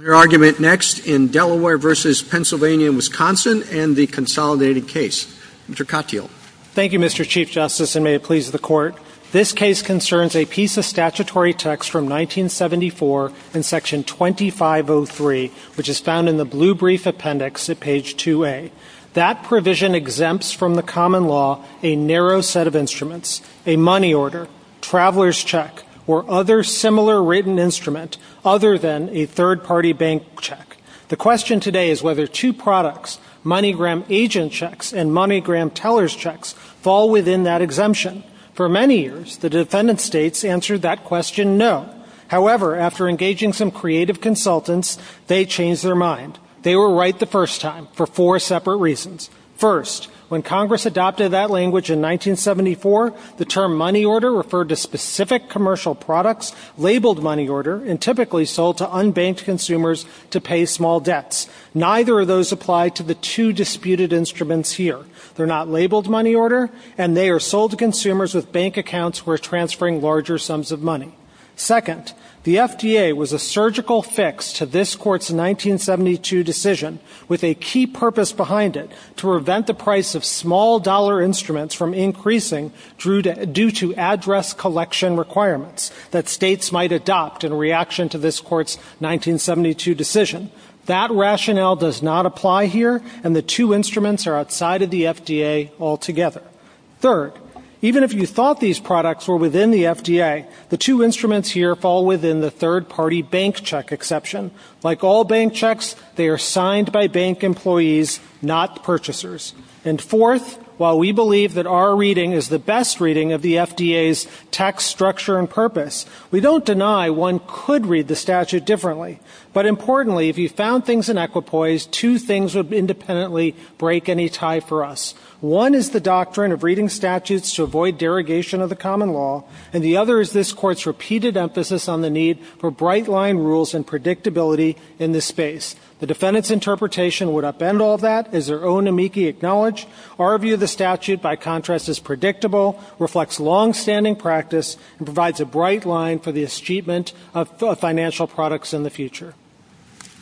Your argument next in Delaware v. Pennsylvania and Wisconsin and the consolidated case. Mr. Katyal. Thank you, Mr. Chief Justice, and may it please the Court. This case concerns a piece of statutory text from 1974 in Section 2503, which is found in the blue brief appendix at page 2A. That provision exempts from the common law a narrow set of instruments, a money order, traveler's check, or other similar written instrument, other than a third-party bank check. The question today is whether two products, MoneyGram agent checks and MoneyGram teller's checks, fall within that exemption. For many years, the defendant states answered that question no. However, after engaging some creative consultants, they changed their mind. They were right the first time for four separate reasons. First, when Congress adopted that language in 1974, the term money order referred to specific commercial products labeled money order and typically sold to unbanked consumers to pay small debts. Neither of those apply to the two disputed instruments here. They're not labeled money order, and they are sold to consumers with bank accounts who are transferring larger sums of money. Second, the FDA was a surgical fix to this Court's 1972 decision with a key purpose behind it to prevent the price of small dollar instruments from increasing due to address collection requirements that states might adopt in reaction to this Court's 1972 decision. That rationale does not apply here, and the two instruments are outside of the FDA altogether. Third, even if you thought these products were within the FDA, the two instruments here fall within the third-party bank check exception. Like all bank checks, they are signed by bank employees, not purchasers. And fourth, while we believe that our reading is the best reading of the FDA's tax structure and purpose, we don't deny one could read the statute differently. But importantly, if you found things in equipoise, two things would independently break any tie for us. One is the doctrine of reading statutes to avoid derogation of the common law, and the other is this Court's repeated emphasis on the need for bright-line rules and predictability in this space. The defendant's interpretation would upend all that, as their own amici acknowledge. Our view of the statute, by contrast, is predictable, reflects longstanding practice, and provides a bright line for the achievement of financial products in the future.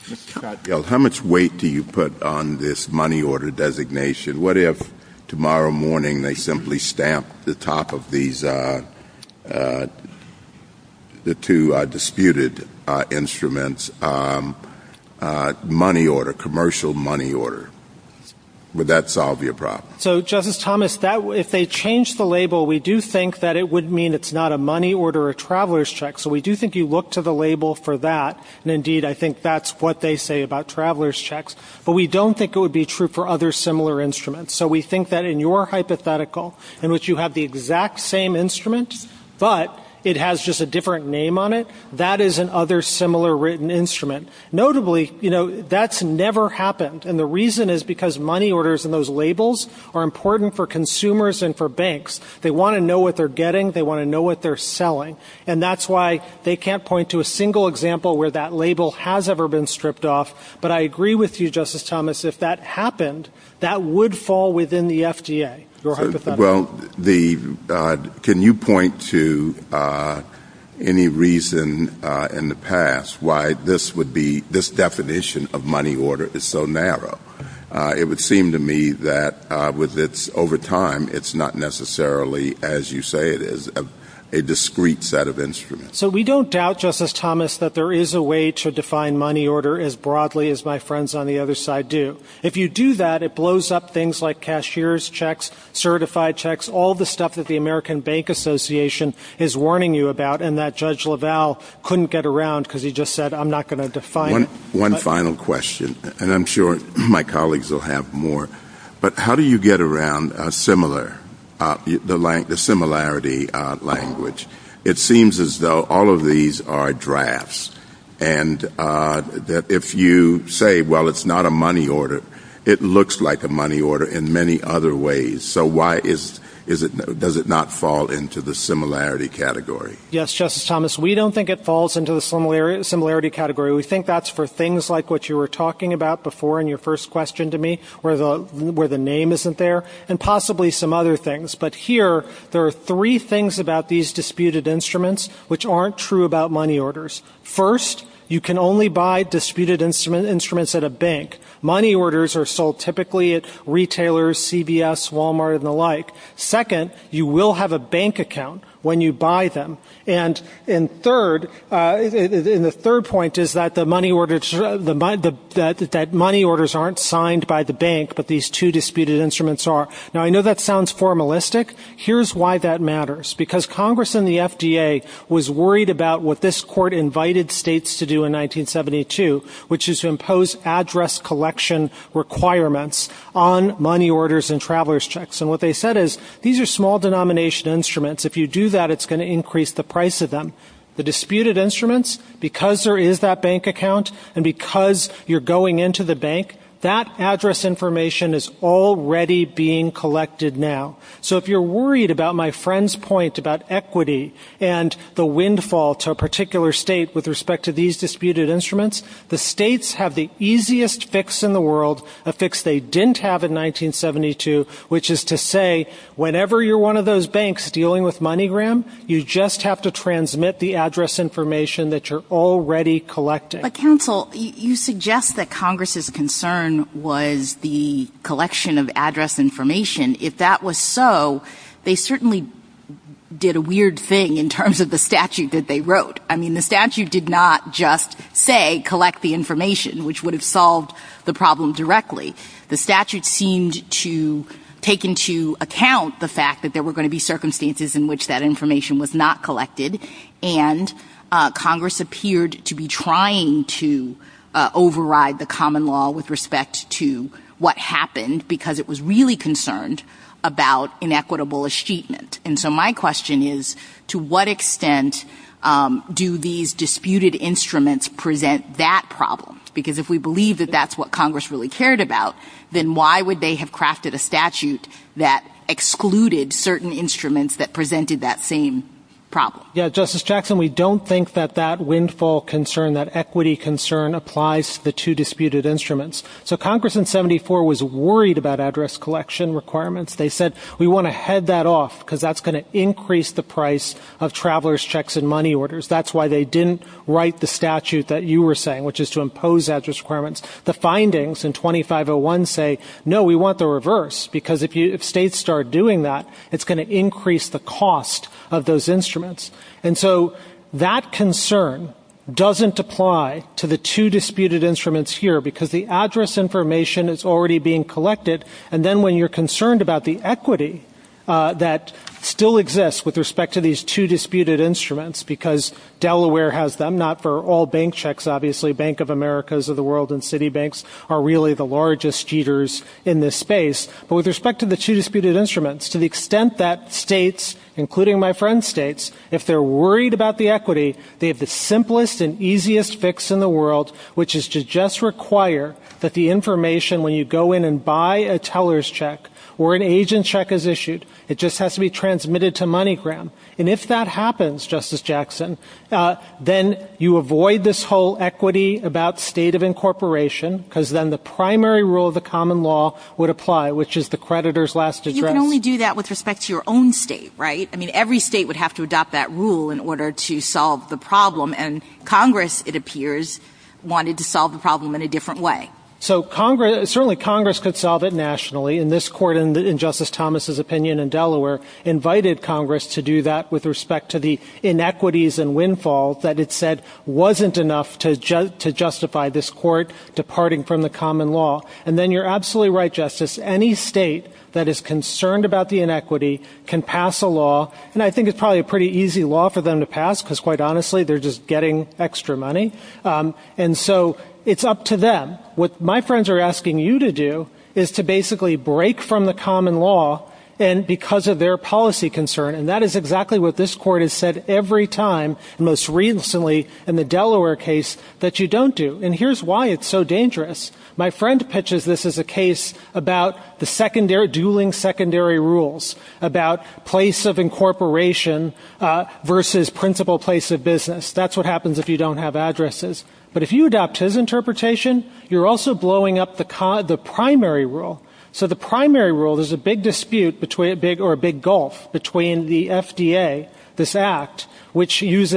Mr. Katyal, how much weight do you put on this money order designation? What if tomorrow morning they simply stamp the top of these two disputed instruments, money order, commercial money order? Would that solve your problem? So, Justice Thomas, if they change the label, we do think that it would mean it's not a money order or a traveler's check. So we do think you look to the label for that. And indeed, I think that's what they say about traveler's checks. But we don't think it would be true for other similar instruments. So we think that in your hypothetical, in which you have the exact same instrument, but it has just a different name on it, that is another similar written instrument. Notably, you know, that's never happened. And the reason is because money orders and those labels are important for consumers and for banks. They want to know what they're getting. They want to know what they're selling. And that's why they can't point to a single example where that label has ever been stripped off. But I agree with you, Justice Thomas, if that happened, that would fall within the FDA, your hypothetical. Well, can you point to any reason in the past why this would be, this definition of money order is so narrow? It would seem to me that over time, it's not necessarily, as you say it is, a discrete set of instruments. So we don't doubt, Justice Thomas, that there is a way to define money order as broadly as my friends on the other side do. If you do that, it blows up things like cashier's checks, certified checks, all the stuff that the American Bank Association is warning you about, and that Judge LaValle couldn't get around because he just said, I'm not going to define it. One final question, and I'm sure my colleagues will have more. But how do you get around a similar, the similarity language? It seems as though all of these are drafts, and that if you say, well, it's not a money order, it looks like a money order in many other ways. So why is it, does it not fall into the similarity category? Yes, Justice Thomas, we don't think it falls into the similarity category. We think that's for things like what you were talking about before in your first question to me, where the name isn't there, and possibly some other things. But here, there are three things about these disputed instruments which aren't true about money orders. First, you can only buy disputed instruments at a bank. Money orders are sold typically at retailers, CVS, Walmart, and the like. Second, you will have a bank account when you buy them. And in third, and the third point is that money orders aren't signed by the bank, but these two disputed instruments are. Now, I know that sounds formalistic. Here's why that matters. Because Congress and the FDA was worried about what this Court invited states to do in 1972, which is to impose address collection requirements on money orders and traveler's checks. And what they said is, these are small denomination instruments. If you do that, it's going to increase the price of them. The disputed instruments, because there is that bank account and because you're going into the bank, that address information is already being collected now. So if you're worried about my friend's point about equity and the windfall to a particular state with respect to these disputed instruments, the states have the easiest fix in the world, a fix they didn't have in 1972, which is to say, whenever you're one of those banks dealing with MoneyGram, you just have to transmit the address information that you're already collecting. But, counsel, you suggest that Congress's concern was the collection of address information. If that was so, they certainly did a weird thing in terms of the statute that they wrote. I mean, the statute did not just say collect the information, which would have solved the problem directly. The statute seemed to take into account the fact that there were going to be circumstances in which that information was not collected. And Congress appeared to be trying to override the common law with respect to what happened, because it was really concerned about inequitable achievement. And so my question is, to what extent do these disputed instruments present that problem? Because if we believe that that's what Congress really cared about, then why would they have crafted a statute that excluded certain instruments that presented that same problem? Yeah, Justice Jackson, we don't think that that windfall concern, that equity concern, applies to the two disputed instruments. So Congress in 1974 was worried about address collection requirements. They said, we want to head that off, because that's going to increase the price of travelers' checks and money orders. That's why they didn't write the statute that you were saying, which is to impose address requirements. The findings in 2501 say, no, we want the reverse, because if states start doing that, it's going to increase the cost of those instruments. And so that concern doesn't apply to the two disputed instruments here, because the address information is already being collected. And then when you're concerned about the equity that still exists with respect to these two disputed instruments, because Delaware has them, not for all bank checks, obviously. Bank of Americas of the world and Citibanks are really the largest cheaters in this space. But with respect to the two disputed instruments, to the extent that states, including my friend's states, if they're worried about the equity, they have the simplest and easiest fix in the world, which is to just require that the information, when you go in and buy a teller's check or an agent's check is issued, it just has to be transmitted to MoneyGram. And if that happens, Justice Jackson, then you avoid this whole equity about state of incorporation, because then the primary rule of the common law would apply, which is the creditor's last address. You can only do that with respect to your own state, right? I mean, every state would have to adopt that rule in order to solve the problem. And Congress, it appears, wanted to solve the problem in a different way. So certainly Congress could solve it nationally. And this court, in Justice Thomas's opinion in Delaware, invited Congress to do that with respect to the inequities and windfall that it said wasn't enough to justify this court departing from the common law. And then you're absolutely right, Justice. Any state that is concerned about the inequity can pass a law, and I think it's probably a pretty easy law for them to pass because, quite honestly, they're just getting extra money. And so it's up to them. What my friends are asking you to do is to basically break from the common law because of their policy concern. And that is exactly what this court has said every time, most recently in the Delaware case, that you don't do. And here's why it's so dangerous. My friend pitches this as a case about the dueling secondary rules, about place of incorporation versus principal place of business. That's what happens if you don't have addresses. But if you adopt his interpretation, you're also blowing up the primary rule. So the primary rule, there's a big dispute or a big gulf between the FDA, this act, which moves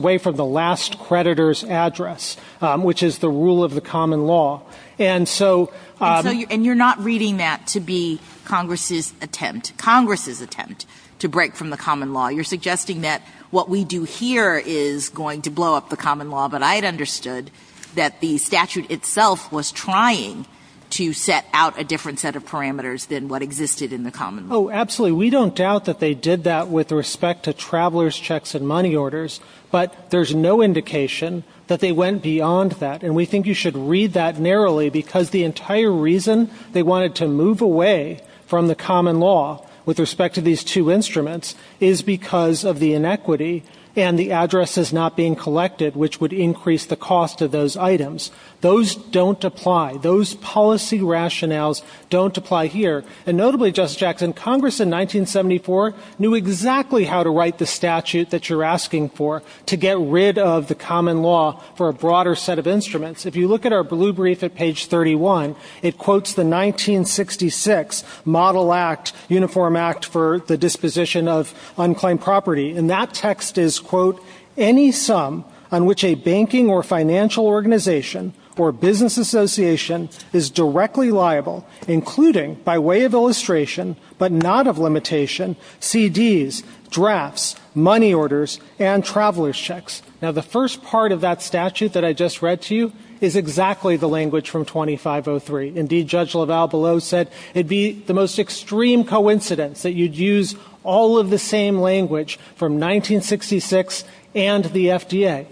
away from the last creditor's address, which is the rule of the common law. And so you're not reading that to be Congress's attempt, Congress's attempt, to break from the common law. You're suggesting that what we do here is going to blow up the common law. But I had understood that the statute itself was trying to set out a different set of parameters than what existed in the common law. Oh, absolutely. We don't doubt that they did that with respect to travelers' checks and money orders. But there's no indication that they went beyond that. And we think you should read that narrowly because the entire reason they wanted to move away from the common law with respect to these two instruments is because of the inequity and the addresses not being collected, which would increase the cost of those items. Those don't apply. Those policy rationales don't apply here. And notably, Justice Jackson, Congress in 1974 knew exactly how to write the statute that you're asking for to get rid of the common law for a broader set of instruments. If you look at our blue brief at page 31, it quotes the 1966 Model Act, Uniform Act for the Disposition of Unclaimed Property. And that text is, quote, any sum on which a banking or financial organization or business association is directly liable, including by way of illustration but not of limitation, CDs, drafts, money orders, and travelers' checks. Now, the first part of that statute that I just read to you is exactly the language from 2503. Indeed, Judge LaValle below said it would be the most extreme coincidence that you'd use all of the same language from 1966 and the FDA.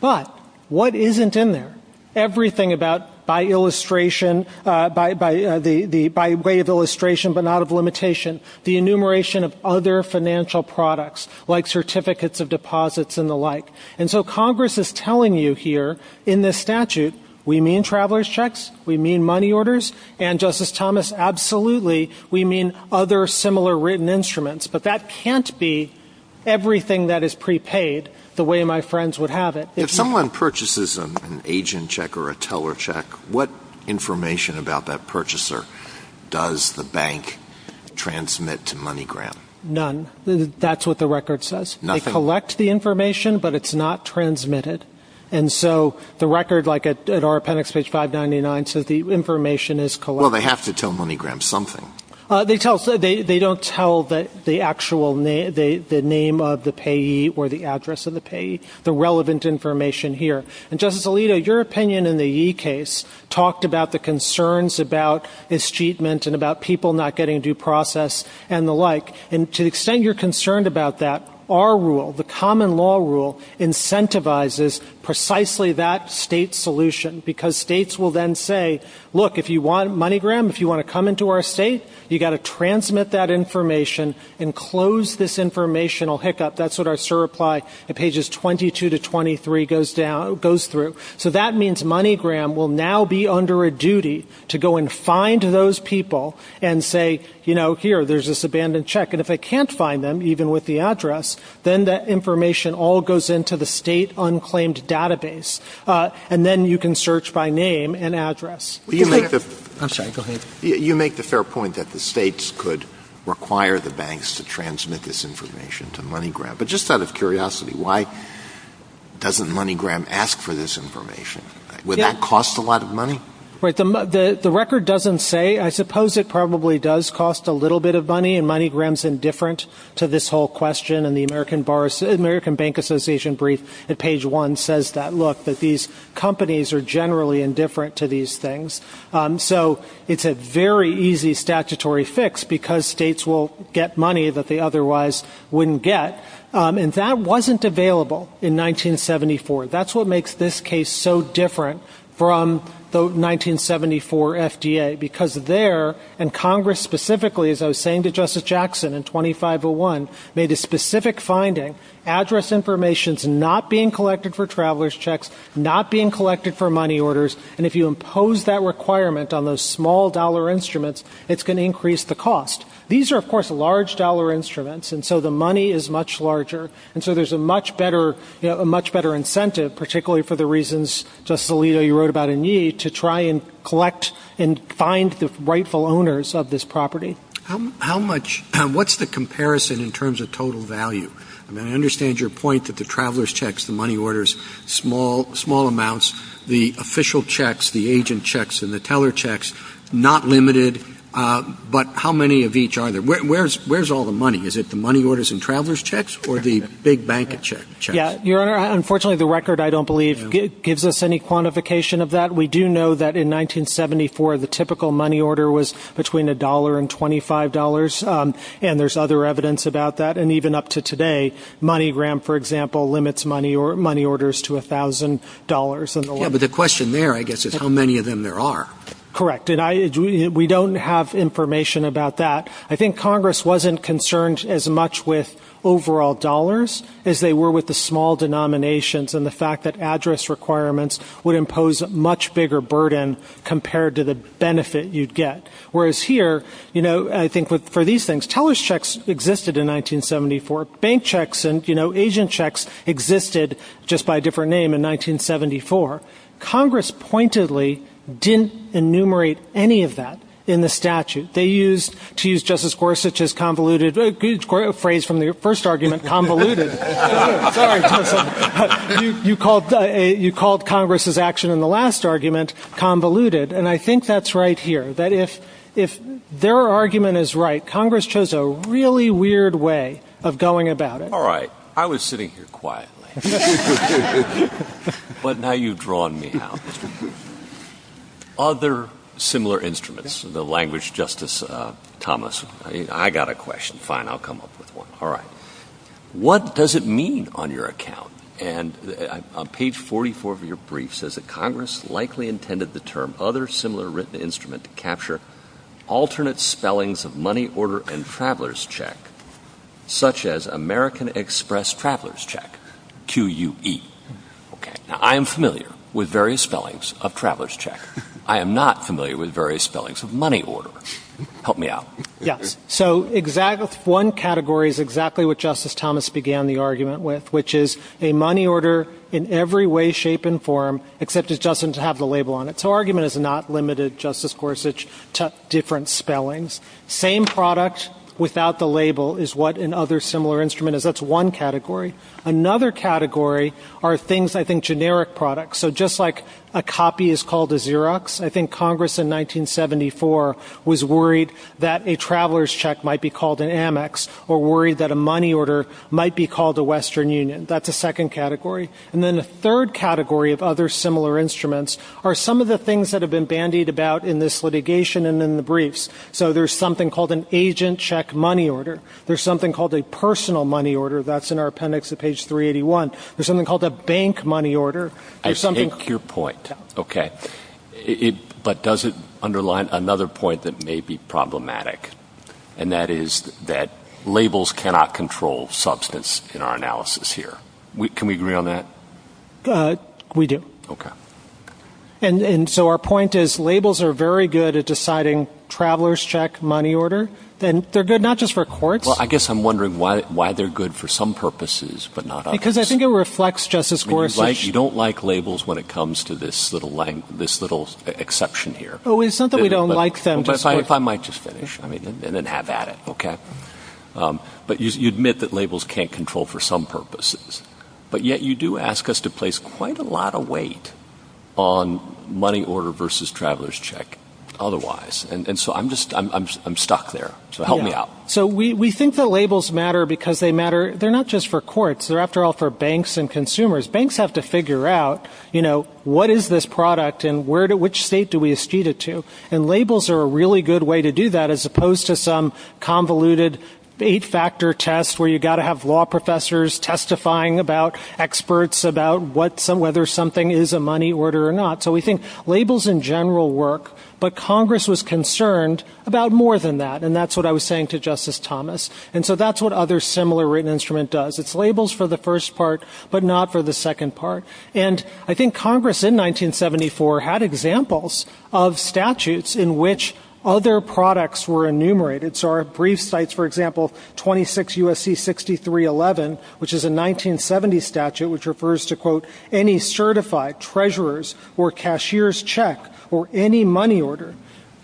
But what isn't in there? Everything about by way of illustration but not of limitation, the enumeration of other financial products like certificates of deposits and the like. And so Congress is telling you here in this statute we mean travelers' checks, we mean money orders, and, Justice Thomas, absolutely we mean other similar written instruments. But that can't be everything that is prepaid the way my friends would have it. If someone purchases an agent check or a teller check, what information about that purchaser does the bank transmit to MoneyGram? None. That's what the record says. Nothing? They collect the information, but it's not transmitted. And so the record, like at our appendix, page 599, says the information is collected. Well, they have to tell MoneyGram something. They don't tell the actual name of the payee or the address of the payee, the relevant information here. And, Justice Alito, your opinion in the Yee case talked about the concerns about escheatment and about people not getting due process and the like. And to the extent you're concerned about that, our rule, the common law rule, incentivizes precisely that state solution because states will then say, look, if you want MoneyGram, if you want to come into our state, you've got to transmit that information and close this informational hiccup. That's what our SIR reply at pages 22 to 23 goes through. So that means MoneyGram will now be under a duty to go and find those people and say, you know, here, there's this abandoned check. And if they can't find them, even with the address, then that information all goes into the state unclaimed database. And then you can search by name and address. I'm sorry, go ahead. You make the fair point that the states could require the banks to transmit this information to MoneyGram. But just out of curiosity, why doesn't MoneyGram ask for this information? Would that cost a lot of money? The record doesn't say. I suppose it probably does cost a little bit of money, and MoneyGram's indifferent to this whole question. And the American Bank Association brief at page one says that, look, that these companies are generally indifferent to these things. So it's a very easy statutory fix because states will get money that they otherwise wouldn't get. And that wasn't available in 1974. That's what makes this case so different from the 1974 FDA, because there, and Congress specifically, as I was saying to Justice Jackson in 2501, made a specific finding. Address information's not being collected for traveler's checks, not being collected for money orders. And if you impose that requirement on those small dollar instruments, it's going to increase the cost. These are, of course, large dollar instruments, and so the money is much larger. And so there's a much better incentive, particularly for the reasons, Justice Alito, you wrote about in Yee, to try and collect and find the rightful owners of this property. How much, what's the comparison in terms of total value? I mean, I understand your point that the traveler's checks, the money orders, small amounts. The official checks, the agent checks, and the teller checks, not limited. But how many of each are there? Where's all the money? Is it the money orders and traveler's checks or the big bank checks? Your Honor, unfortunately, the record, I don't believe, gives us any quantification of that. We do know that in 1974, the typical money order was between $1 and $25, and there's other evidence about that. And even up to today, MoneyGram, for example, limits money orders to $1,000. Yeah, but the question there, I guess, is how many of them there are. Correct. And we don't have information about that. I think Congress wasn't concerned as much with overall dollars as they were with the small denominations and the fact that address requirements would impose a much bigger burden compared to the benefit you'd get. Whereas here, you know, I think for these things, teller's checks existed in 1974, bank checks and, you know, agent checks existed just by a different name in 1974. Congress pointedly didn't enumerate any of that in the statute. They used, to use Justice Gorsuch's convoluted phrase from the first argument, convoluted. Sorry. You called Congress's action in the last argument convoluted. And I think that's right here, that if their argument is right, Congress chose a really weird way of going about it. All right. I was sitting here quietly. But now you've drawn me out. Other similar instruments, the language, Justice Thomas. I got a question. Fine. I'll come up with one. All right. What does it mean on your account? And on page 44 of your brief says that Congress likely intended the term other similar written instrument to capture alternate spellings of money order and traveler's check, such as American Express traveler's check, QUE. Okay. Now, I am familiar with various spellings of traveler's check. I am not familiar with various spellings of money order. Help me out. Yes. So one category is exactly what Justice Thomas began the argument with, which is a money order in every way, shape, and form, except it doesn't have the label on it. So argument is not limited, Justice Gorsuch, to different spellings. Same product without the label is what an other similar instrument is. That's one category. Another category are things I think generic products. So just like a copy is called a Xerox, I think Congress in 1974 was worried that a traveler's check might be called an Amex or worried that a money order might be called a Western Union. That's a second category. And then a third category of other similar instruments are some of the things that have been bandied about in this litigation and in the briefs. So there's something called an agent check money order. There's something called a personal money order. That's in our appendix at page 381. There's something called a bank money order. I take your point. Okay. But does it underline another point that may be problematic? And that is that labels cannot control substance in our analysis here. Can we agree on that? We do. Okay. And so our point is labels are very good at deciding traveler's check money order. They're good not just for courts. Well, I guess I'm wondering why they're good for some purposes but not others. Because I think it reflects Justice Gorsuch. You don't like labels when it comes to this little exception here. It's not that we don't like them. If I might just finish and then have at it, okay? But you admit that labels can't control for some purposes. But yet you do ask us to place quite a lot of weight on money order versus traveler's check otherwise. And so I'm stuck there. So help me out. So we think that labels matter because they matter not just for courts. They're after all for banks and consumers. Banks have to figure out, you know, what is this product and which state do we eschede it to? And labels are a really good way to do that as opposed to some convoluted eight-factor test where you've got to have law professors testifying about experts about whether something is a money order or not. So we think labels in general work, but Congress was concerned about more than that. And that's what I was saying to Justice Thomas. And so that's what other similar written instrument does. It's labels for the first part but not for the second part. And I think Congress in 1974 had examples of statutes in which other products were enumerated. So our brief cites, for example, 26 U.S.C. 6311, which is a 1970 statute, which refers to, quote, any certified treasurer's or cashier's check or any money order.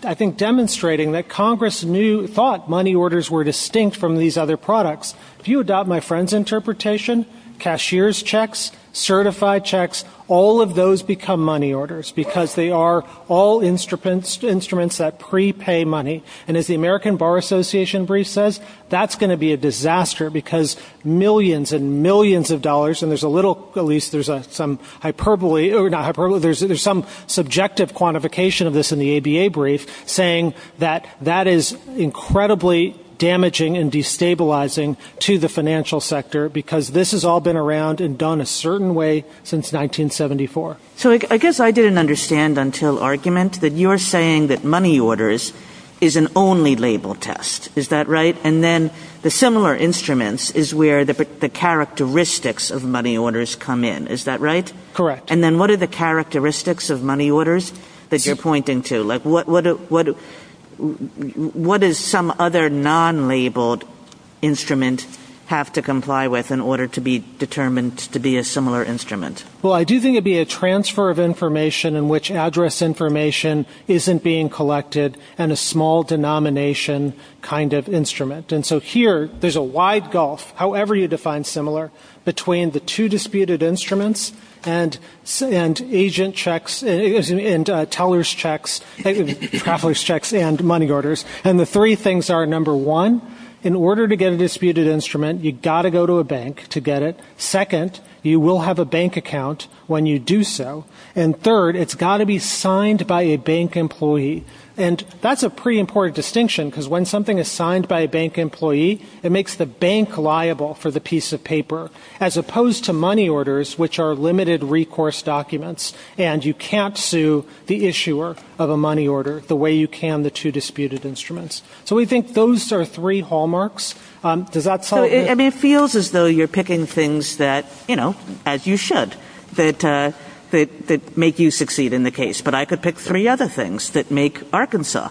I think demonstrating that Congress thought money orders were distinct from these other products. If you adopt my friend's interpretation, cashier's checks, certified checks, all of those become money orders because they are all instruments that prepay money. And as the American Bar Association brief says, that's going to be a disaster because millions and millions of dollars, and there's a little, at least there's some hyperbole, or not hyperbole, there's some subjective quantification of this in the ABA brief, saying that that is incredibly damaging and destabilizing to the financial sector because this has all been around and done a certain way since 1974. So I guess I didn't understand until argument that you're saying that money orders is an only label test. Is that right? And then the similar instruments is where the characteristics of money orders come in. Is that right? Correct. And then what are the characteristics of money orders that you're pointing to? What does some other non-labeled instrument have to comply with in order to be determined to be a similar instrument? Well, I do think it would be a transfer of information in which address information isn't being collected and a small denomination kind of instrument. And so here there's a wide gulf, however you define similar, between the two disputed instruments and agent checks and teller's checks, traveler's checks and money orders. And the three things are, number one, in order to get a disputed instrument, you've got to go to a bank to get it. Second, you will have a bank account when you do so. And third, it's got to be signed by a bank employee. And that's a pretty important distinction, because when something is signed by a bank employee, it makes the bank liable for the piece of paper, as opposed to money orders, which are limited recourse documents, and you can't sue the issuer of a money order the way you can the two disputed instruments. So we think those are three hallmarks. I mean, it feels as though you're picking things that, you know, as you should, that make you succeed in the case. But I could pick three other things that make Arkansas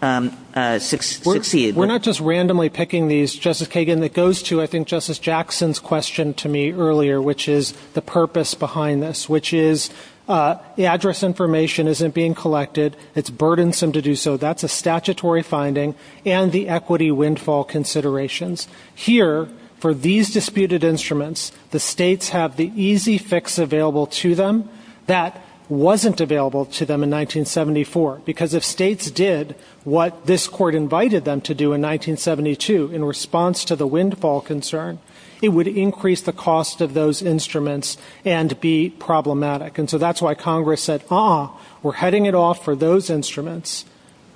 succeed. We're not just randomly picking these. Justice Kagan, it goes to, I think, Justice Jackson's question to me earlier, which is the purpose behind this, which is the address information isn't being collected, it's burdensome to do so. So that's a statutory finding and the equity windfall considerations. Here, for these disputed instruments, the states have the easy fix available to them that wasn't available to them in 1974, because if states did what this Court invited them to do in 1972 in response to the windfall concern, it would increase the cost of those instruments and be problematic. And so that's why Congress said, uh-uh, we're heading it off for those instruments,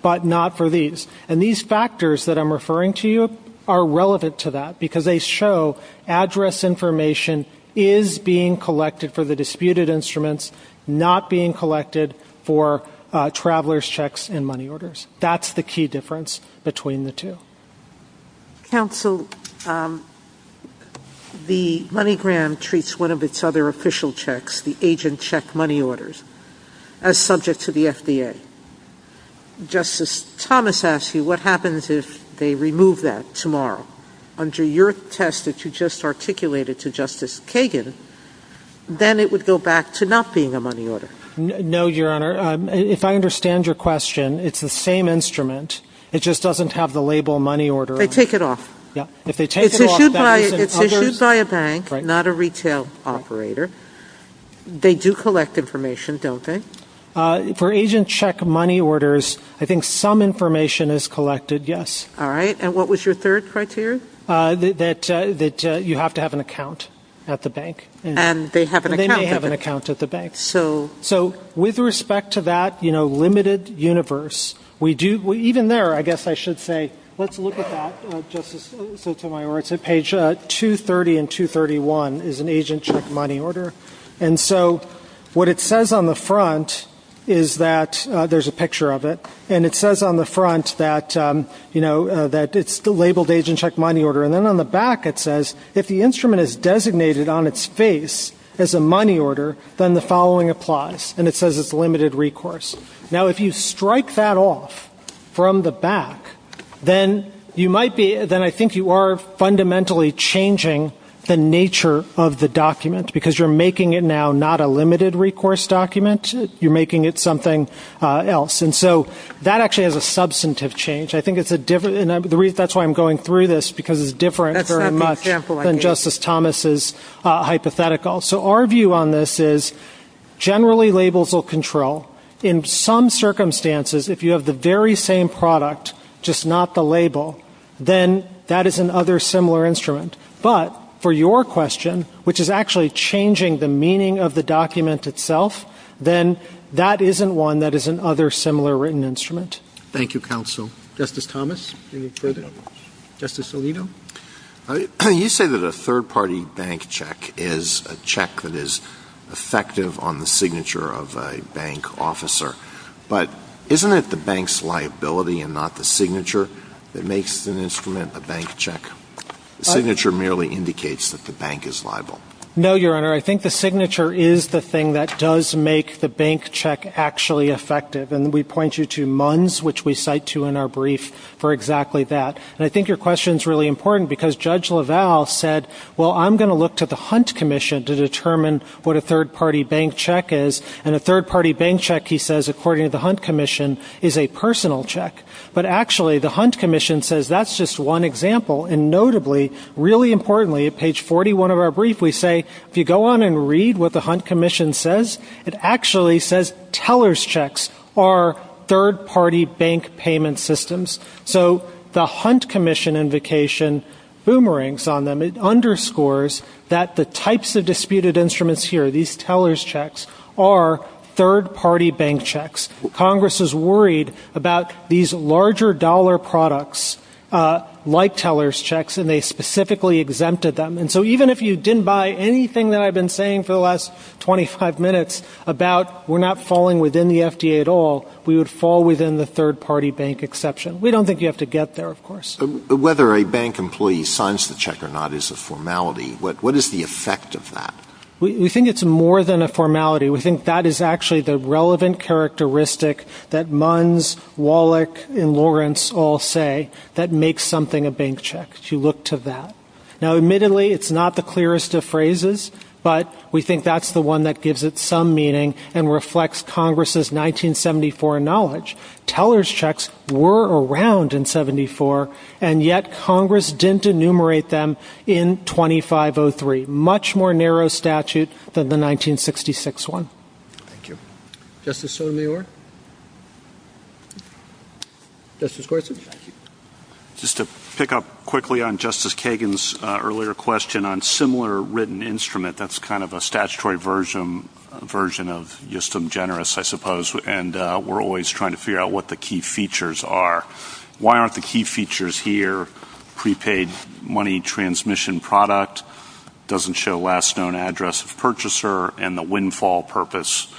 but not for these. And these factors that I'm referring to you are relevant to that, because they show address information is being collected for the disputed instruments, not being collected for traveler's checks and money orders. That's the key difference between the two. Counsel, the MoneyGram treats one of its other official checks, the agent check money orders, as subject to the FDA. Justice Thomas asked you what happens if they remove that tomorrow. Under your test that you just articulated to Justice Kagan, then it would go back to not being a money order. No, Your Honor. Your Honor, if I understand your question, it's the same instrument. It just doesn't have the label money order on it. They take it off. Yeah. If they take it off, then it's in others. It's issued by a bank, not a retail operator. They do collect information, don't they? For agent check money orders, I think some information is collected, yes. All right. And what was your third criteria? That you have to have an account at the bank. And they have an account at the bank. They may have an account at the bank. So? So with respect to that, you know, limited universe, we do, even there, I guess I should say, let's look at that, Justice Sotomayor. It's at page 230 and 231 is an agent check money order. And so what it says on the front is that there's a picture of it. And it says on the front that, you know, that it's labeled agent check money order. And then on the back it says, if the instrument is designated on its face as a money order, then the following applies. And it says it's limited recourse. Now, if you strike that off from the back, then you might be, then I think you are fundamentally changing the nature of the document. Because you're making it now not a limited recourse document. You're making it something else. And so that actually is a substantive change. I think it's a different, and that's why I'm going through this, because it's different very much than Justice Thomas' hypothetical. So our view on this is generally labels will control. In some circumstances, if you have the very same product, just not the label, then that is another similar instrument. But for your question, which is actually changing the meaning of the document itself, then that isn't one that is another similar written instrument. Thank you, counsel. Justice Thomas, any further? Justice Alito. You say that a third-party bank check is a check that is effective on the signature of a bank officer. But isn't it the bank's liability and not the signature that makes an instrument a bank check? The signature merely indicates that the bank is liable. No, Your Honor. I think the signature is the thing that does make the bank check actually effective. And we point you to MUNS, which we cite to in our brief, for exactly that. And I think your question is really important, because Judge LaValle said, well, I'm going to look to the Hunt Commission to determine what a third-party bank check is. And a third-party bank check, he says, according to the Hunt Commission, is a personal check. But actually, the Hunt Commission says that's just one example. And notably, really importantly, at page 41 of our brief, we say, if you go on and read what the Hunt Commission says, it actually says teller's checks are third-party bank payment systems. So the Hunt Commission invocation boomerangs on them. It underscores that the types of disputed instruments here, these teller's checks, are third-party bank checks. Congress is worried about these larger dollar products like teller's checks, and they specifically exempted them. And so even if you didn't buy anything that I've been saying for the last 25 minutes about, we're not falling within the FDA at all, we would fall within the third-party bank exception. We don't think you have to get there, of course. Whether a bank employee signs the check or not is a formality. What is the effect of that? We think it's more than a formality. We think that is actually the relevant characteristic that MUNS, Wallach, and Lawrence all say that makes something a bank check, to look to that. Now, admittedly, it's not the clearest of phrases, but we think that's the one that gives it some meaning and reflects Congress' 1974 knowledge. Teller's checks were around in 74, and yet Congress didn't enumerate them in 2503, much more narrow statute than the 1966 one. Thank you. Justice Sotomayor? Justice Gorsuch? Thank you. Just to pick up quickly on Justice Kagan's earlier question on similar written instrument, that's kind of a statutory version of justum generis, I suppose, and we're always trying to figure out what the key features are. Why aren't the key features here prepaid money transmission product, doesn't show last known address of purchaser, and the windfall purpose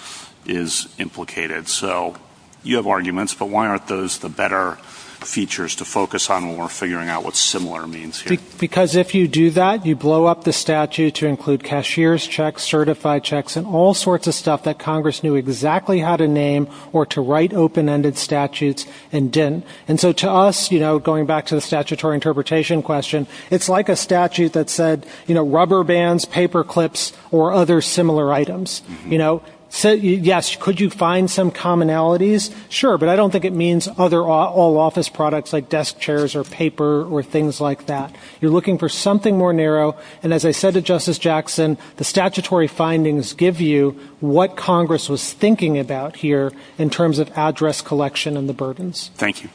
is implicated? So you have arguments, but why aren't those the better features to focus on when we're figuring out what similar means here? Because if you do that, you blow up the statute to include cashier's checks, certified checks, and all sorts of stuff that Congress knew exactly how to name or to write open-ended statutes and didn't. And so to us, going back to the statutory interpretation question, it's like a statute that said rubber bands, paper clips, or other similar items. Yes, could you find some commonalities? Sure, but I don't think it means all office products like desk chairs or paper or things like that. You're looking for something more narrow, and as I said to Justice Jackson, the statutory findings give you what Congress was thinking about here in terms of address collection and the burdens. Thank you.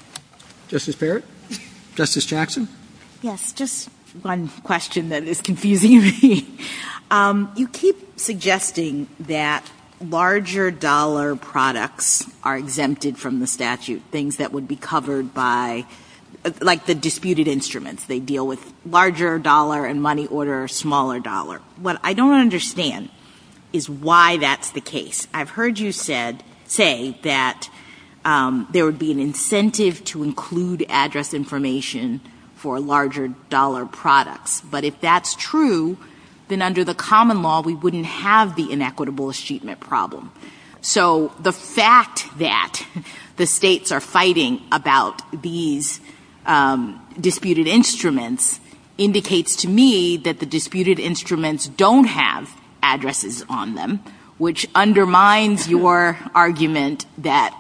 Justice Barrett? Justice Jackson? Yes, just one question that is confusing me. You keep suggesting that larger dollar products are exempted from the statute, things that would be covered by, like the disputed instruments. They deal with larger dollar and money order or smaller dollar. What I don't understand is why that's the case. I've heard you say that there would be an incentive to include address information for larger dollar products. But if that's true, then under the common law, we wouldn't have the inequitable achievement problem. So the fact that the states are fighting about these disputed instruments indicates to me that the disputed instruments don't have addresses on them, which undermines your argument that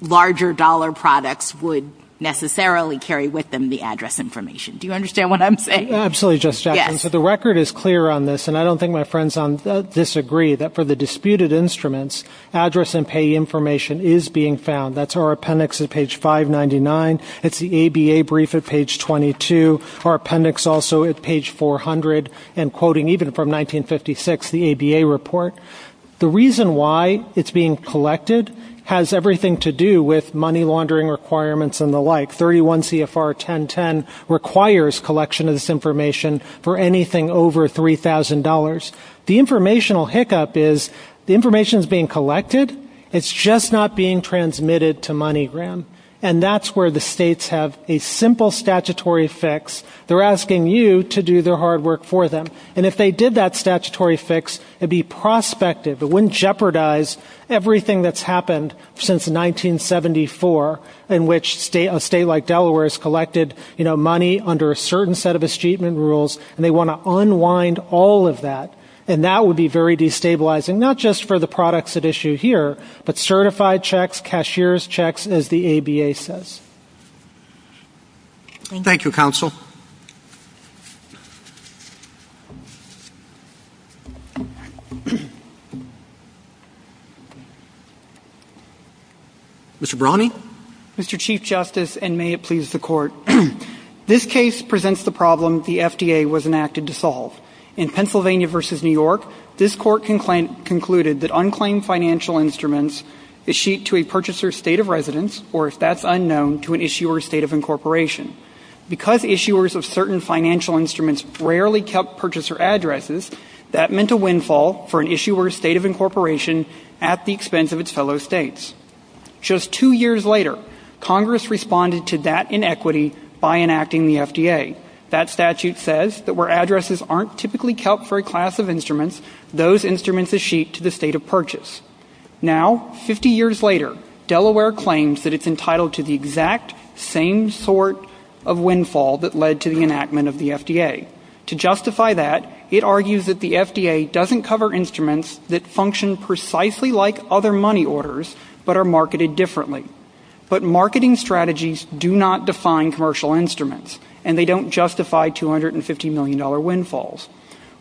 larger dollar products would necessarily carry with them the address information. Do you understand what I'm saying? Absolutely, Justice Jackson. So the record is clear on this, and I don't think my friends disagree that for the disputed instruments, address and pay information is being found. That's our appendix at page 599. It's the ABA brief at page 22, our appendix also at page 400, and quoting even from 1956, the ABA report. The reason why it's being collected has everything to do with money laundering requirements and the like. 31 CFR 1010 requires collection of this information for anything over $3,000. The informational hiccup is the information is being collected. It's just not being transmitted to money. And that's where the states have a simple statutory fix. They're asking you to do their hard work for them. And if they did that statutory fix, it would be prospective. It wouldn't jeopardize everything that's happened since 1974 in which a state like Delaware has collected, you know, money under a certain set of achievement rules, and they want to unwind all of that. And that would be very destabilizing, not just for the products at issue here, but certified checks, cashier's checks, as the ABA says. Thank you, counsel. Mr. Brawny. Mr. Chief Justice, and may it please the Court. This case presents the problem the FDA was enacted to solve. In Pennsylvania v. New York, this Court concluded that unclaimed financial instruments is sheet to a purchaser's state of residence, or if that's unknown, to an issuer's state of incorporation. Because issuers of certain financial instruments rarely kept purchaser addresses, that meant a windfall for an issuer's state of incorporation at the expense of its fellow states. Just two years later, Congress responded to that inequity by enacting the FDA. That statute says that where addresses aren't typically kept for a class of instruments, those instruments are sheet to the state of purchase. Now, 50 years later, Delaware claims that it's entitled to the exact same sort of windfall that led to the enactment of the FDA. To justify that, it argues that the FDA doesn't cover instruments that function precisely like other money orders, but are marketed differently. But marketing strategies do not define commercial instruments, and they don't justify $250 million windfalls.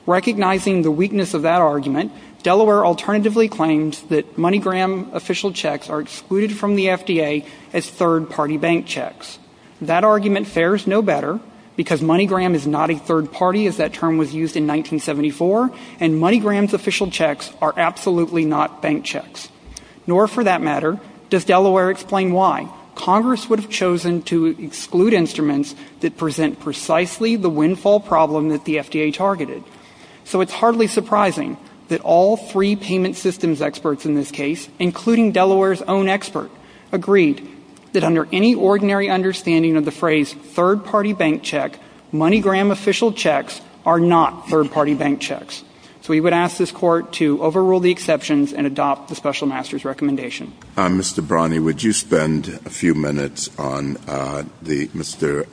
Recognizing the weakness of that argument, Delaware alternatively claimed that MoneyGram official checks are excluded from the FDA as third-party bank checks. That argument fares no better, because MoneyGram is not a third party, as that term was used in 1974, and MoneyGram's official checks are absolutely not bank checks. Nor, for that matter, does Delaware explain why Congress would have chosen to exclude instruments that present precisely the windfall problem that the FDA targeted. So it's hardly surprising that all three payment systems experts in this case, including Delaware's own expert, agreed that under any ordinary understanding of the phrase third-party bank check, MoneyGram official checks are not third-party bank checks. So we would ask this Court to overrule the exceptions and adopt the special master's recommendation. Mr. Brani, would you spend a few minutes on Mr.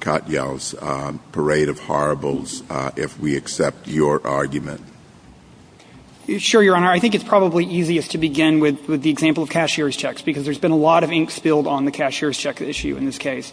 Katyal's parade of horribles, if we accept your argument? Sure, Your Honor. I think it's probably easiest to begin with the example of cashier's checks, because there's been a lot of ink spilled on the cashier's check issue in this case.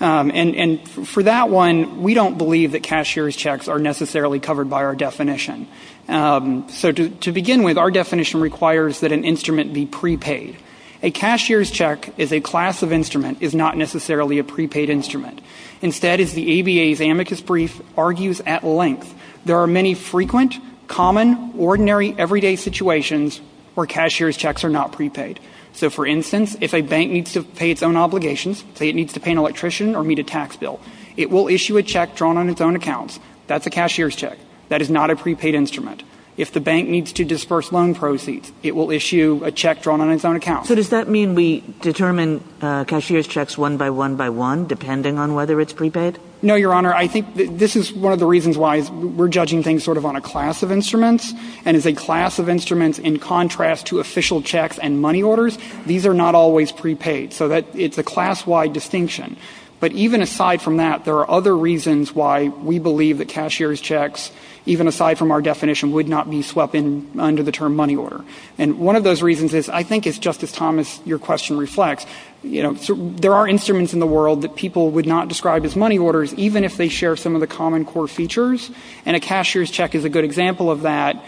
And for that one, we don't believe that cashier's checks are necessarily covered by our definition. So to begin with, our definition requires that an instrument be prepaid. A cashier's check as a class of instrument is not necessarily a prepaid instrument. Instead, as the ABA's amicus brief argues at length, there are many frequent, common, ordinary, everyday situations where cashier's checks are not prepaid. So, for instance, if a bank needs to pay its own obligations, say it needs to pay an electrician or meet a tax bill, it will issue a check drawn on its own accounts. That's a cashier's check. That is not a prepaid instrument. If the bank needs to disperse loan proceeds, it will issue a check drawn on its own accounts. So does that mean we determine cashier's checks one by one by one, depending on whether it's prepaid? No, Your Honor. I think this is one of the reasons why we're judging things sort of on a class of instruments. And as a class of instruments, in contrast to official checks and money orders, these are not always prepaid. So it's a class-wide distinction. But even aside from that, there are other reasons why we believe that cashier's checks, even aside from our definition, would not be swept in under the term money order. And one of those reasons is, I think, as Justice Thomas, your question, reflects, you know, there are instruments in the world that people would not describe as money orders, even if they share some of the common core features. And a cashier's check is a good example of that.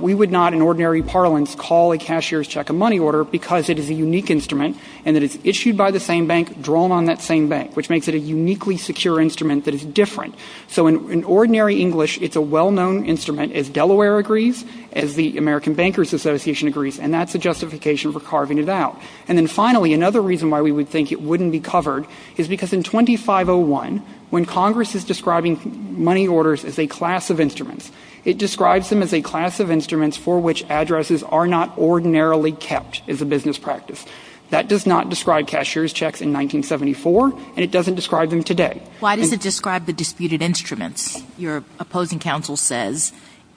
We would not, in ordinary parlance, call a cashier's check a money order because it is a unique instrument and that it's issued by the same bank, drawn on that same bank, which makes it a uniquely secure instrument that is different. So in ordinary English, it's a well-known instrument, as Delaware agrees, as the American Bankers Association agrees, and that's a justification for carving it out. And then finally, another reason why we would think it wouldn't be covered is because in 2501, when Congress is describing money orders as a class of instruments, it describes them as a class of instruments for which addresses are not ordinarily kept as a business practice. That does not describe cashier's checks in 1974, and it doesn't describe them today. Why does it describe the disputed instruments? Your opposing counsel says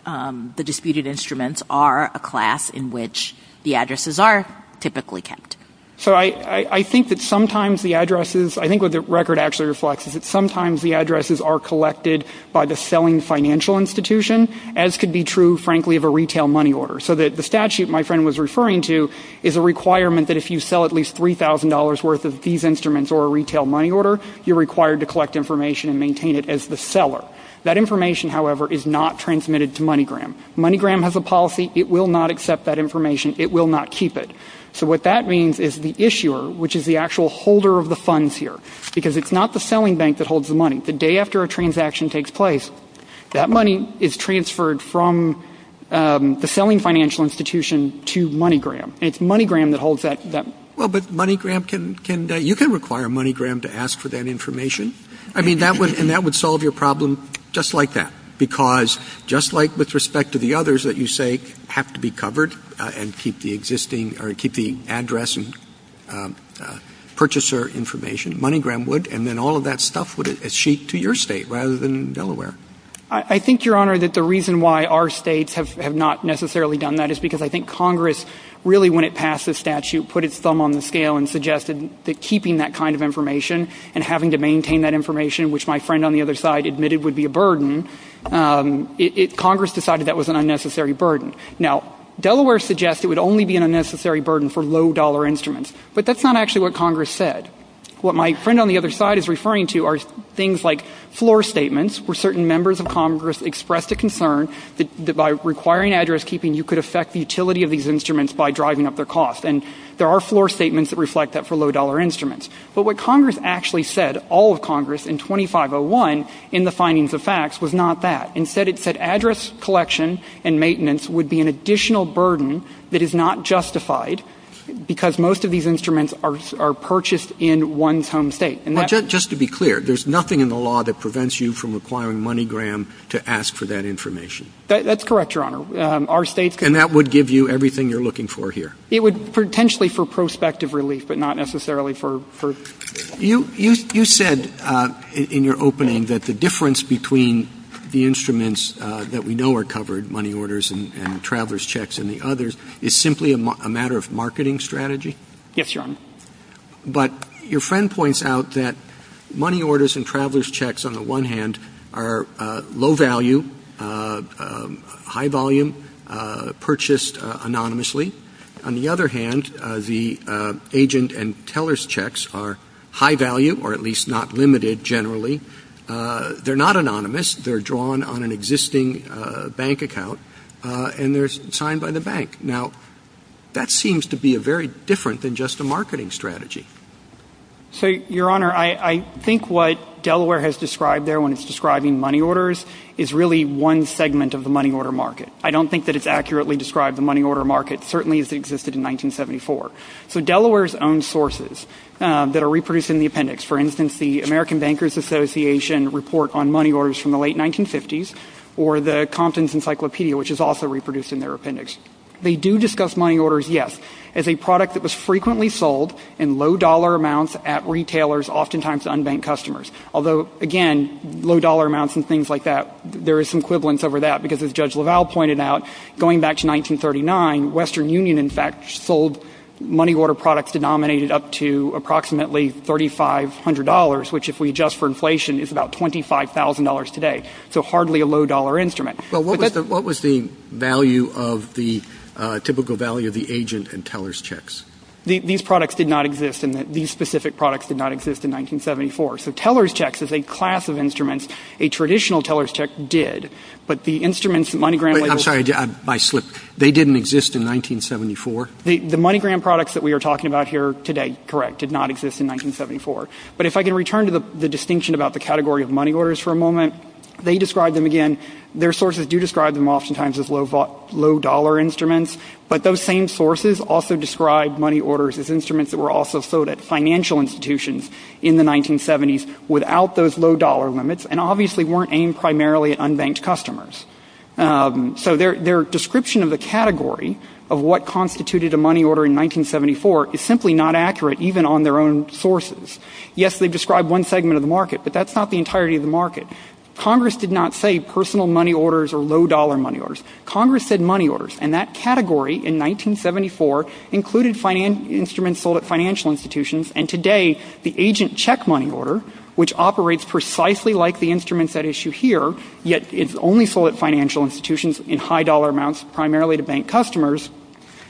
the disputed instruments are a class in which the addresses are typically kept. So I think that sometimes the addresses, I think what the record actually reflects is that sometimes the addresses are collected by the selling financial institution, as could be true, frankly, of a retail money order. So that the statute my friend was referring to is a requirement that if you sell at least $3,000 worth of these instruments or a retail money order, you're required to collect information and maintain it as the seller. That information, however, is not transmitted to MoneyGram. MoneyGram has a policy. It will not accept that information. It will not keep it. So what that means is the issuer, which is the actual holder of the funds here, because it's not the selling bank that holds the money. The day after a transaction takes place, that money is transferred from the selling financial institution to MoneyGram. And it's MoneyGram that holds that. Well, but MoneyGram can, you can require MoneyGram to ask for that information. I mean, and that would solve your problem just like that. Because just like with respect to the others that you say have to be covered and keep the existing or keep the address and purchaser information, MoneyGram would. And then all of that stuff would achieve to your State rather than Delaware. I think, Your Honor, that the reason why our States have not necessarily done that is because I think Congress really, when it passed this statute, put its thumb on the scale and suggested that keeping that kind of information and having to maintain that information, which my friend on the other side admitted would be a burden, it, Congress decided that was an unnecessary burden. Now, Delaware suggests it would only be an unnecessary burden for low dollar instruments. But that's not actually what Congress said. What my friend on the other side is referring to are things like floor statements where certain members of Congress expressed a concern that by requiring address keeping, you could affect the utility of these instruments by driving up their cost. And there are floor statements that reflect that for low dollar instruments. But what Congress actually said, all of Congress in 2501 in the findings of facts, was not that. Instead, it said address collection and maintenance would be an additional burden that is not justified because most of these instruments are purchased in one's home State. And that's Just to be clear, there's nothing in the law that prevents you from requiring MoneyGram to ask for that information? That's correct, Your Honor. Our State's And that would give you everything you're looking for here? It would potentially for prospective relief, but not necessarily for You said in your opening that the difference between the instruments that we know are covered, money orders and traveler's checks and the others, is simply a matter of marketing strategy? Yes, Your Honor. But your friend points out that money orders and traveler's checks on the one hand are low value, high volume, purchased anonymously. On the other hand, the agent and teller's checks are high value, or at least not limited generally. They're not anonymous. They're drawn on an existing bank account, and they're signed by the bank. Now, that seems to be very different than just a marketing strategy. So, Your Honor, I think what Delaware has described there when it's describing money orders is really one segment of the money order market. I don't think that it's accurately described the money order market, certainly as it existed in 1974. So Delaware's own sources that are reproduced in the appendix, for instance, the American Bankers Association report on money orders from the late 1950s, or the Compton's Encyclopedia, which is also reproduced in their appendix. They do discuss money orders, yes, as a product that was frequently sold in low dollar amounts at retailers, oftentimes to unbanked customers. Although, again, low dollar amounts and things like that, there is some equivalence over that, because as Judge LaValle pointed out, going back to 1939, Western Union, in fact, sold money order products denominated up to approximately $3,500, which if we adjust for inflation is about $25,000 today. So hardly a low dollar instrument. Well, what was the value of the typical value of the agent and teller's checks? These products did not exist. These specific products did not exist in 1974. So teller's checks, as a class of instruments, a traditional teller's check did, but the instruments that MoneyGram labeled. I'm sorry, I slipped. They didn't exist in 1974? The MoneyGram products that we are talking about here today, correct, did not exist in 1974. But if I can return to the distinction about the category of money orders for a moment, they describe them again. Their sources do describe them oftentimes as low dollar instruments. But those same sources also describe money orders as instruments that were also sold at financial institutions in the 1970s without those low dollar limits, and obviously weren't aimed primarily at unbanked customers. So their description of the category of what constituted a money order in 1974 is simply not accurate, even on their own sources. Yes, they've described one segment of the market, but that's not the entirety of the market. Congress did not say personal money orders or low dollar money orders. Congress said money orders. And that category in 1974 included instruments sold at financial institutions, and today the agent check money order, which operates precisely like the instruments at issue here, yet it's only sold at financial institutions in high dollar amounts primarily to bank customers,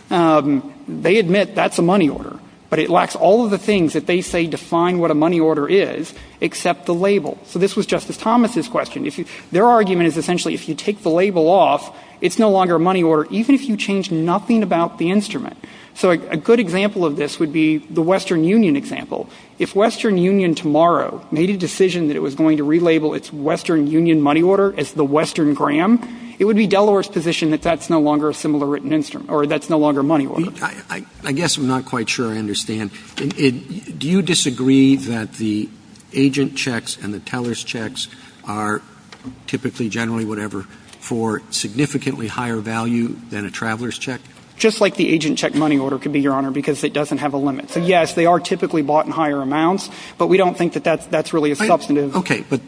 they admit that's a money order. But it lacks all of the things that they say define what a money order is, except the label. So this was Justice Thomas' question. Their argument is essentially if you take the label off, it's no longer a money order, even if you change nothing about the instrument. So a good example of this would be the Western Union example. If Western Union tomorrow made a decision that it was going to relabel its Western Union money order as the Western gram, it would be Delaware's position that that's no longer a similar written instrument, or that's no longer a money order. I guess I'm not quite sure I understand. Do you disagree that the agent checks and the teller's checks are typically generally whatever for significantly higher value than a traveler's check? Just like the agent check money order could be, Your Honor, because it doesn't have a limit. So, yes, they are typically bought in higher amounts, but we don't think that that's really a substantive. Okay. But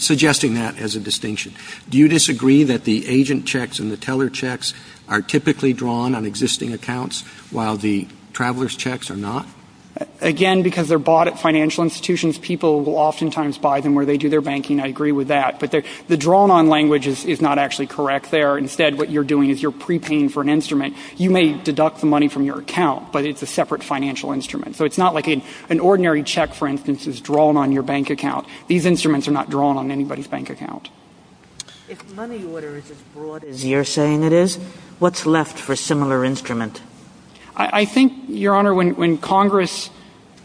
suggesting that as a distinction. Do you disagree that the agent checks and the teller checks are typically drawn on existing accounts while the traveler's checks are not? Again, because they're bought at financial institutions, people will oftentimes buy them where they do their banking. I agree with that. But the drawn-on language is not actually correct there. Instead, what you're doing is you're prepaying for an instrument. You may deduct the money from your account, but it's a separate financial instrument. So it's not like an ordinary check, for instance, is drawn on your bank account. These instruments are not drawn on anybody's bank account. If money order is as broad as you're saying it is, what's left for a similar instrument? I think, Your Honor, when Congress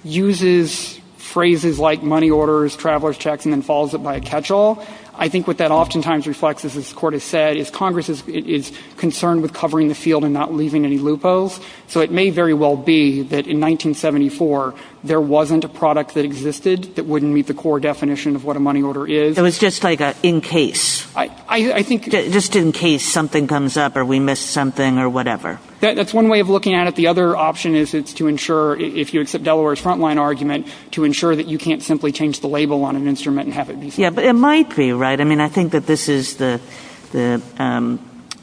uses phrases like money orders, traveler's checks, and then follows it by a catch-all, I think what that oftentimes reflects, as this Court has said, is Congress is concerned with covering the field and not leaving any loopholes. So it may very well be that in 1974, there wasn't a product that existed that wouldn't meet the core definition of what a money order is. So it's just like an in-case, just in case something comes up or we miss something or whatever. That's one way of looking at it. The other option is to ensure, if you accept Delaware's front-line argument, to ensure that you can't simply change the label on an instrument and have it be something else. Yeah, but it might be, right? I mean, I think that this is the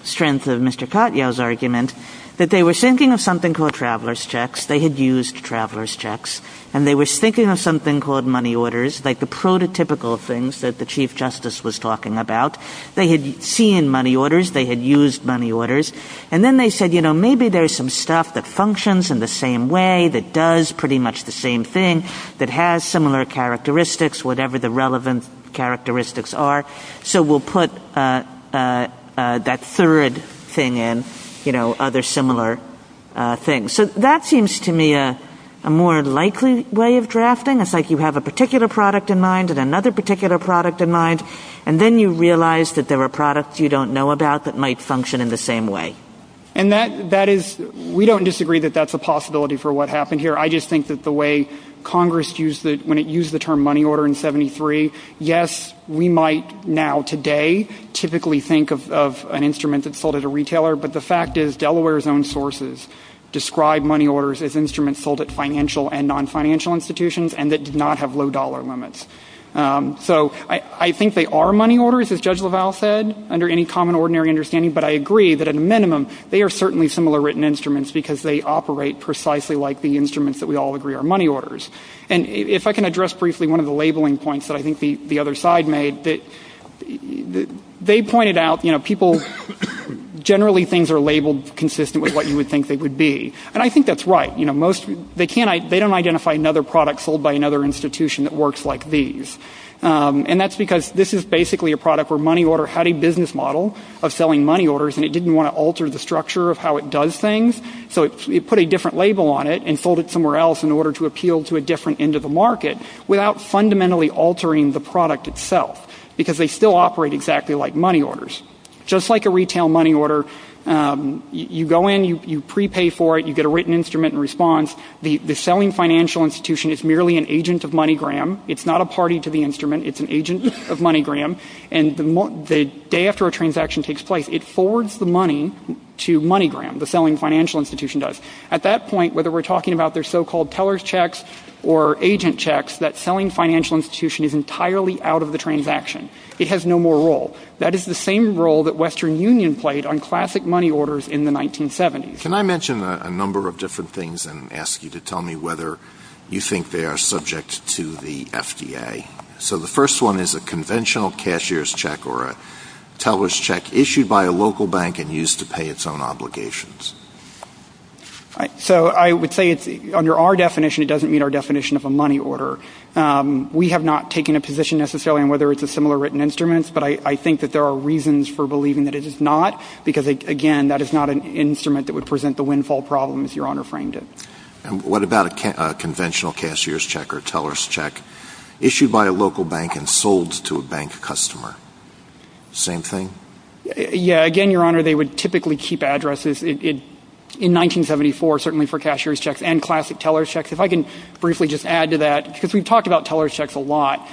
strength of Mr. Katyal's argument, that they were thinking of something called traveler's checks. They had used traveler's checks. And they were thinking of something called money orders, like the prototypical things that the Chief Justice was talking about. They had seen money orders. They had used money orders. And then they said, you know, maybe there's some stuff that functions in the same way, that does pretty much the same thing, that has similar characteristics, whatever the relevant characteristics are. So we'll put that third thing in, you know, other similar things. So that seems to me a more likely way of drafting. It's like you have a particular product in mind and another particular product in mind, and then you realize that there are products you don't know about that might function in the same way. And that is, we don't disagree that that's a possibility for what happened here. I just think that the way Congress used the, when it used the term money order in 73, yes, we might now today typically think of an instrument that's sold at a retailer. But the fact is, Delaware's own sources describe money orders as financial and non-financial institutions, and that did not have low dollar limits. So I think they are money orders, as Judge LaValle said, under any common, ordinary understanding. But I agree that, at a minimum, they are certainly similar written instruments because they operate precisely like the instruments that we all agree are money orders. And if I can address briefly one of the labeling points that I think the other side made, that they pointed out, you know, people, generally things are labeled consistent with what you would think they would be. And I think that's right. You know, most, they can't, they don't identify another product sold by another institution that works like these. And that's because this is basically a product where money order had a business model of selling money orders, and it didn't want to alter the structure of how it does things. So it put a different label on it and sold it somewhere else in order to appeal to a different end of the market without fundamentally altering the product itself because they still operate exactly like money orders. Just like a retail money order, you go in, you prepay for it, you get a written instrument in response. The selling financial institution is merely an agent of MoneyGram. It's not a party to the instrument. It's an agent of MoneyGram. And the day after a transaction takes place, it forwards the money to MoneyGram, the selling financial institution does. At that point, whether we're talking about their so-called teller's checks or agent checks, that selling financial institution is entirely out of the transaction. It has no more role. That is the same role that Western Union played on classic money orders in the 1970s. Can I mention a number of different things and ask you to tell me whether you think they are subject to the FDA? So the first one is a conventional cashier's check or a teller's check issued by a local bank and used to pay its own obligations. So I would say under our definition, it doesn't meet our definition of a money order. We have not taken a position necessarily on whether it's a similar written instrument, but I think that there are reasons for believing that it is not because, again, that is not an instrument that would present the windfall problem as Your Honor framed it. And what about a conventional cashier's check or teller's check issued by a local bank and sold to a bank customer? Same thing? Yeah. Again, Your Honor, they would typically keep addresses. In 1974, certainly for cashier's checks and classic teller's checks, if I can briefly just add to that, because we've talked about teller's checks a lot,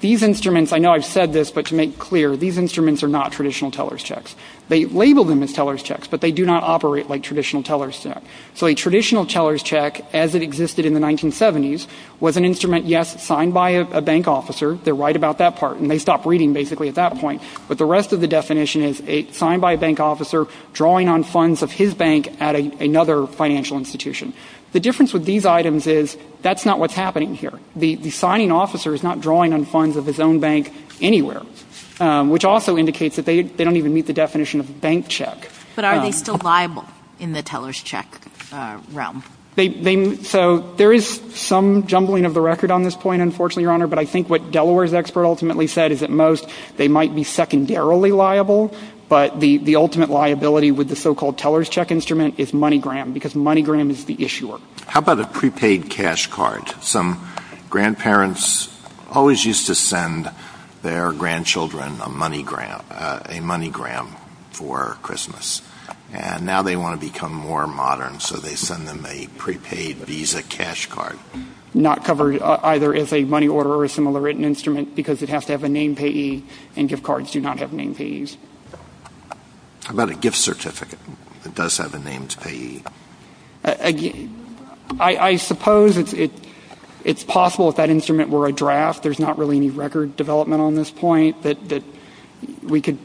these instruments, I know I've said this, but to make clear, these instruments are not traditional teller's checks. They label them as teller's checks, but they do not operate like traditional teller's checks. So a traditional teller's check, as it existed in the 1970s, was an instrument, yes, signed by a bank officer. They're right about that part. And they stopped reading basically at that point. But the rest of the definition is signed by a bank officer drawing on funds of his bank at another financial institution. The difference with these items is that's not what's happening here. The signing officer is not drawing on funds of his own bank anywhere, which also indicates that they don't even meet the definition of a bank check. But are they still liable in the teller's check realm? So there is some jumbling of the record on this point, unfortunately, Your Honor. But I think what Delaware's expert ultimately said is at most they might be secondarily liable, but the ultimate liability with the so-called teller's check instrument is MoneyGram, because MoneyGram is the issuer. How about a prepaid cash card? Some grandparents always used to send their grandchildren a MoneyGram for Christmas. And now they want to become more modern, so they send them a prepaid Visa cash card. Not covered either as a money order or a similar written instrument because it has to have a name payee, and gift cards do not have name payees. How about a gift certificate that does have a named payee? I suppose it's possible if that instrument were a draft, there's not really any record development on this point, that we could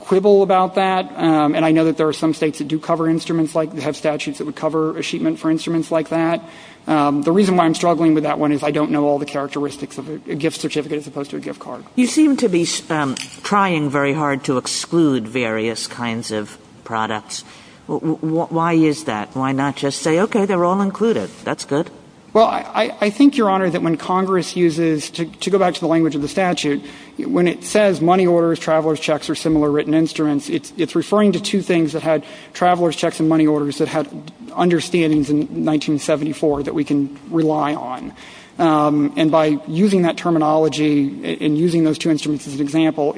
quibble about that. And I know that there are some states that do cover instruments like that, have statutes that would cover a sheet meant for instruments like that. The reason why I'm struggling with that one is I don't know all the characteristics of a gift certificate as opposed to a gift card. Why is that? Why not just say, okay, they're all included. That's good. Well, I think, Your Honor, that when Congress uses, to go back to the language of the statute, when it says money orders, traveler's checks, or similar written instruments, it's referring to two things that had traveler's checks and money orders that had understandings in 1974 that we can rely on. And by using that terminology and using those two instruments as an example,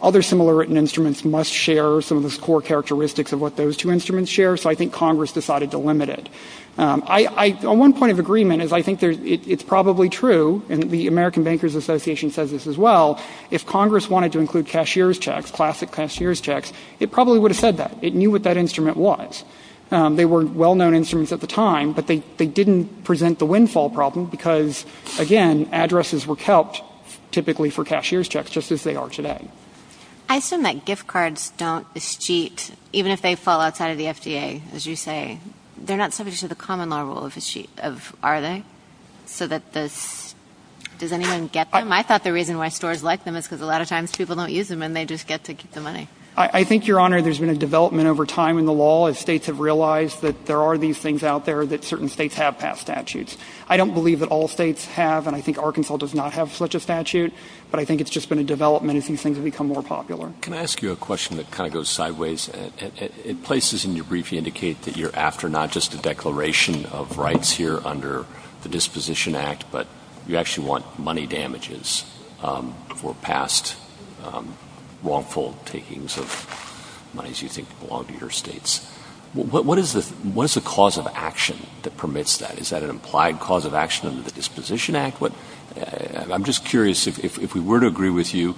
other similar written instruments must share some of the core characteristics of what those two instruments share, so I think Congress decided to limit it. On one point of agreement is I think it's probably true, and the American Bankers Association says this as well, if Congress wanted to include cashier's checks, classic cashier's checks, it probably would have said that. It knew what that instrument was. They were well-known instruments at the time, but they didn't present the windfall problem because, again, addresses were kept typically for cashier's checks, as they are today. I assume that gift cards don't escheat, even if they fall outside of the FDA, as you say. They're not subject to the common law rule of escheat, of are they? So that this, does anyone get them? I thought the reason why stores liked them is because a lot of times people don't use them and they just get to keep the money. I think, Your Honor, there's been a development over time in the law as states have realized that there are these things out there that certain states have passed statutes. I don't believe that all states have, and I think Arkansas does not have such a statute, but I think it's just been a development as these things have become more popular. Can I ask you a question that kind of goes sideways? Places in your brief indicate that you're after not just a declaration of rights here under the Disposition Act, but you actually want money damages for past wrongful takings of monies you think belong to your states. What is the cause of action that permits that? Is that an implied cause of action under the Disposition Act? I'm just curious, if we were to agree with you,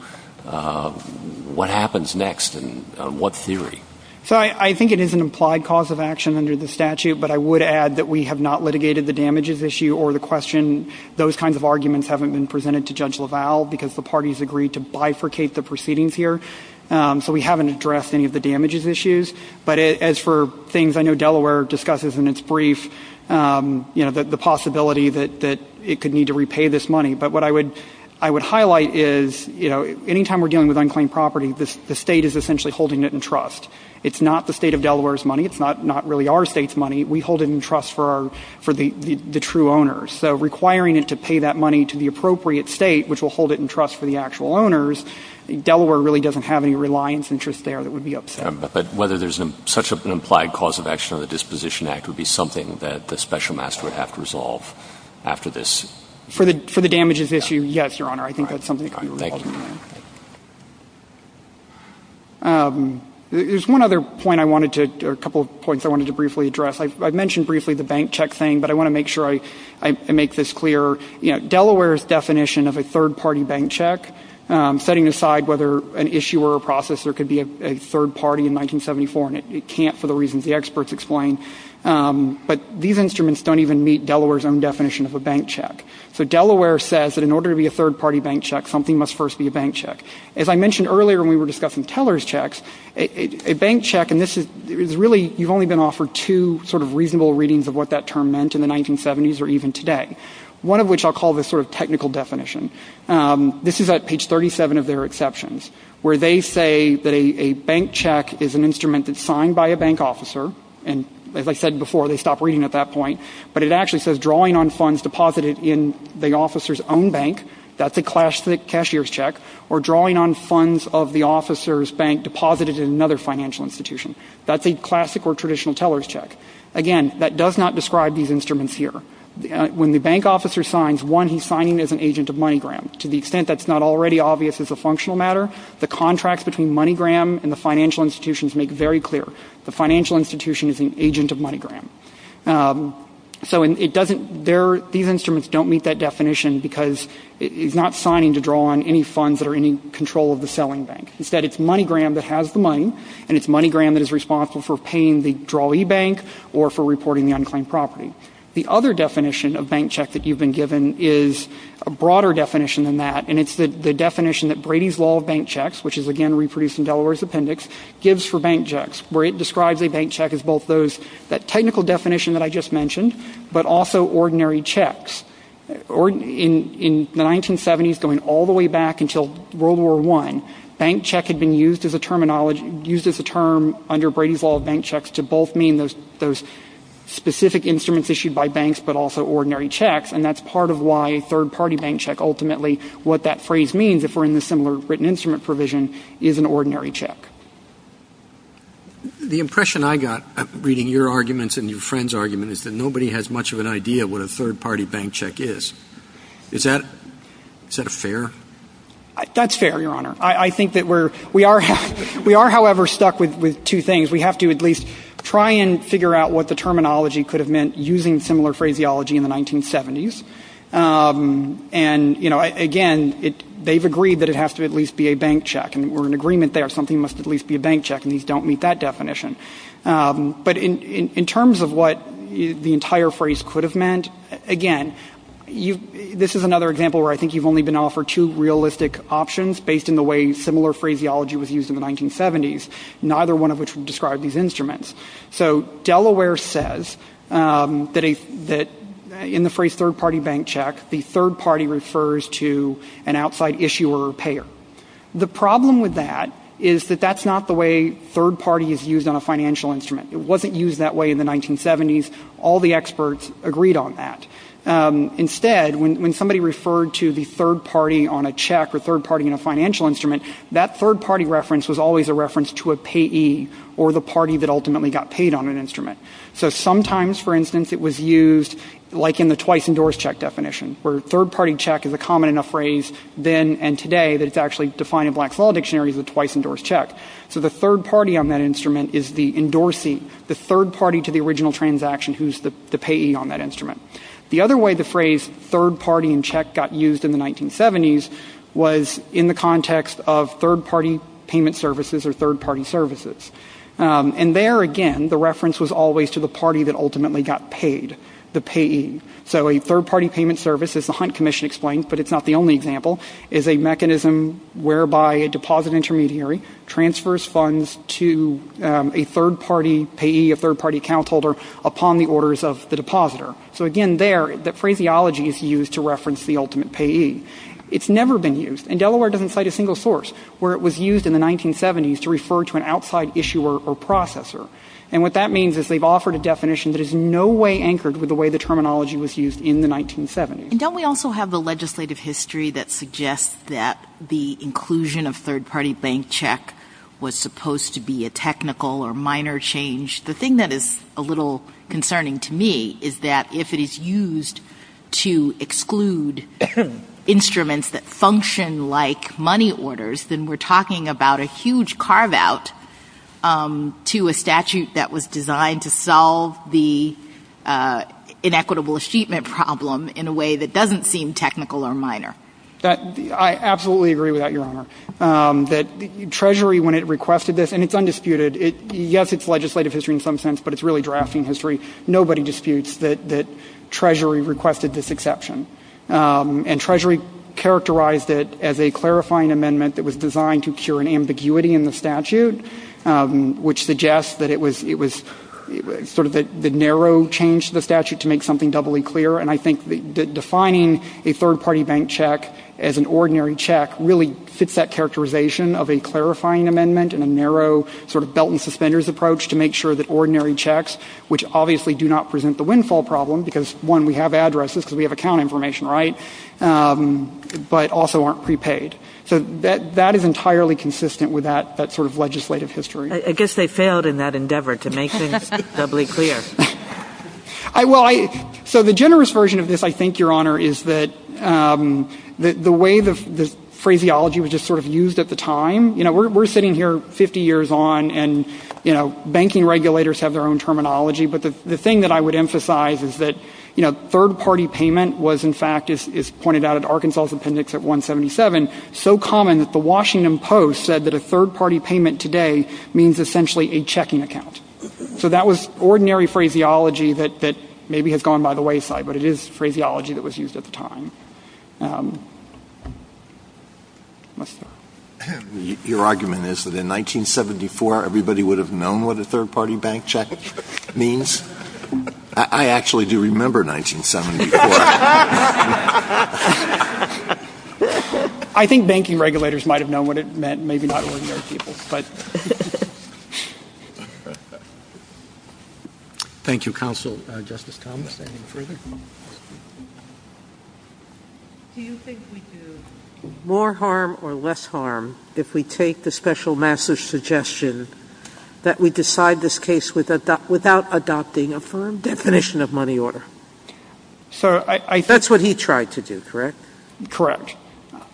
what happens next and what theory? So I think it is an implied cause of action under the statute, but I would add that we have not litigated the damages issue or the question. Those kinds of arguments haven't been presented to Judge LaValle because the parties agreed to bifurcate the proceedings here. So we haven't addressed any of the damages issues. But as for things I know Delaware discusses in its brief, you know, the possibility that it could need to repay this money. But what I would highlight is, you know, any time we're dealing with unclaimed property, the State is essentially holding it in trust. It's not the State of Delaware's money. It's not really our State's money. We hold it in trust for the true owners. So requiring it to pay that money to the appropriate State, which will hold it in trust for the actual owners, Delaware really doesn't have any reliance interest there that would be upset. But whether there's such an implied cause of action under the Disposition Act would be something that the Special Master would have to resolve after this. For the damages issue, yes, Your Honor. I think that's something that could be resolved. Thank you. There's one other point I wanted to, or a couple of points I wanted to briefly address. I mentioned briefly the bank check thing, but I want to make sure I make this clear. You know, Delaware's definition of a third-party bank check, setting aside whether an issuer or processor could be a third party in 1974, and it can't for the reasons the experts explain, but these instruments don't even meet Delaware's own definition of a bank check. So Delaware says that in order to be a third-party bank check, something must first be a bank check. As I mentioned earlier when we were discussing teller's checks, a bank check, and this is really, you've only been offered two sort of reasonable readings of what that term meant in the 1970s or even today, one of which I'll call the sort of technical definition. This is at page 37 of their exceptions, where they say that a bank check is an officer, and as I said before, they stop reading at that point, but it actually says drawing on funds deposited in the officer's own bank, that's a cashier's check, or drawing on funds of the officer's bank deposited in another financial institution. That's a classic or traditional teller's check. Again, that does not describe these instruments here. When the bank officer signs, one, he's signing as an agent of MoneyGram. To the extent that's not already obvious as a functional matter, the contracts between MoneyGram and the financial institutions make very clear. The financial institution is an agent of MoneyGram. So it doesn't, these instruments don't meet that definition because it's not signing to draw on any funds that are in control of the selling bank. Instead, it's MoneyGram that has the money, and it's MoneyGram that is responsible for paying the drawee bank or for reporting the unclaimed property. The other definition of bank check that you've been given is a broader definition than that, and it's the definition that Brady's Law of Bank Checks, which is, again, reproduced in Delaware's appendix, gives for bank checks. It describes a bank check as both those, that technical definition that I just mentioned, but also ordinary checks. In the 1970s, going all the way back until World War I, bank check had been used as a terminology, used as a term under Brady's Law of Bank Checks to both mean those specific instruments issued by banks, but also ordinary checks. And that's part of why a third-party bank check ultimately, what that phrase means, if we're in the similar written instrument provision, is an ordinary check. The impression I got reading your arguments and your friend's argument is that nobody has much of an idea what a third-party bank check is. Is that a fair? That's fair, Your Honor. I think that we are, however, stuck with two things. We have to at least try and figure out what the terminology could have meant using similar phraseology in the 1970s. And, you know, again, they've agreed that it has to at least be a bank check. And we're in agreement there. Something must at least be a bank check. And these don't meet that definition. But in terms of what the entire phrase could have meant, again, this is another example where I think you've only been offered two realistic options based in the way similar phraseology was used in the 1970s, neither one of which would describe these instruments. So Delaware says that in the phrase third-party bank check, the third-party refers to an outside issuer or payer. The problem with that is that that's not the way third-party is used on a financial instrument. It wasn't used that way in the 1970s. All the experts agreed on that. Instead, when somebody referred to the third-party on a check or third-party in a financial instrument, that third-party reference was always a reference to a party that ultimately got paid on an instrument. So sometimes, for instance, it was used like in the twice-endorsed check definition, where third-party check is a common enough phrase then and today that it's actually defined in Black's Law Dictionary as a twice-endorsed check. So the third-party on that instrument is the endorsee, the third-party to the original transaction who's the payee on that instrument. The other way the phrase third-party in check got used in the 1970s was in the And there, again, the reference was always to the party that ultimately got paid, the payee. So a third-party payment service, as the Hunt Commission explains, but it's not the only example, is a mechanism whereby a deposit intermediary transfers funds to a third-party payee, a third-party account holder, upon the orders of the depositor. So, again, there, the phraseology is used to reference the ultimate payee. It's never been used. And Delaware doesn't cite a single source where it was used in the 1970s to refer to an outside issuer or processor. And what that means is they've offered a definition that is in no way anchored with the way the terminology was used in the 1970s. And don't we also have the legislative history that suggests that the inclusion of third-party bank check was supposed to be a technical or minor change? The thing that is a little concerning to me is that if it is used to exclude instruments that function like money orders, then we're talking about a huge carve-out to a statute that was designed to solve the inequitable achievement problem in a way that doesn't seem technical or minor. I absolutely agree with that, Your Honor. That Treasury, when it requested this, and it's undisputed. Yes, it's legislative history in some sense, but it's really drafting history. Nobody disputes that Treasury requested this exception. And Treasury characterized it as a clarifying amendment that was designed to cure an ambiguity in the statute, which suggests that it was sort of the narrow change to the statute to make something doubly clear. And I think defining a third-party bank check as an ordinary check really fits that characterization of a clarifying amendment and a narrow sort of belt-and- suspenders approach to make sure that ordinary checks, which obviously do not present the windfall problem because, one, we have addresses because we have account information, right, but also aren't prepaid. So that is entirely consistent with that sort of legislative history. I guess they failed in that endeavor to make things doubly clear. Well, so the generous version of this, I think, Your Honor, is that the way the phraseology was just sort of used at the time, you know, we're sitting here 50 years on and, you know, banking regulators have their own terminology, but the thing that I would emphasize is that, you know, third-party payment was, in fact, as pointed out at Arkansas's appendix at 177, so common that the Washington Post said that a third-party payment today means essentially a checking account. So that was ordinary phraseology that maybe has gone by the wayside, but it is phraseology that was used at the time. Let's start. Your argument is that in 1974, everybody would have known what a third-party bank check means? I actually do remember 1974. I think banking regulators might have known what it meant, maybe not ordinary people, but. Thank you, counsel. Justice Thomas, anything further? Do you think we do more harm or less harm if we take the special master's suggestion that we decide this case without adopting a firm definition of money order? That's what he tried to do, correct? Correct.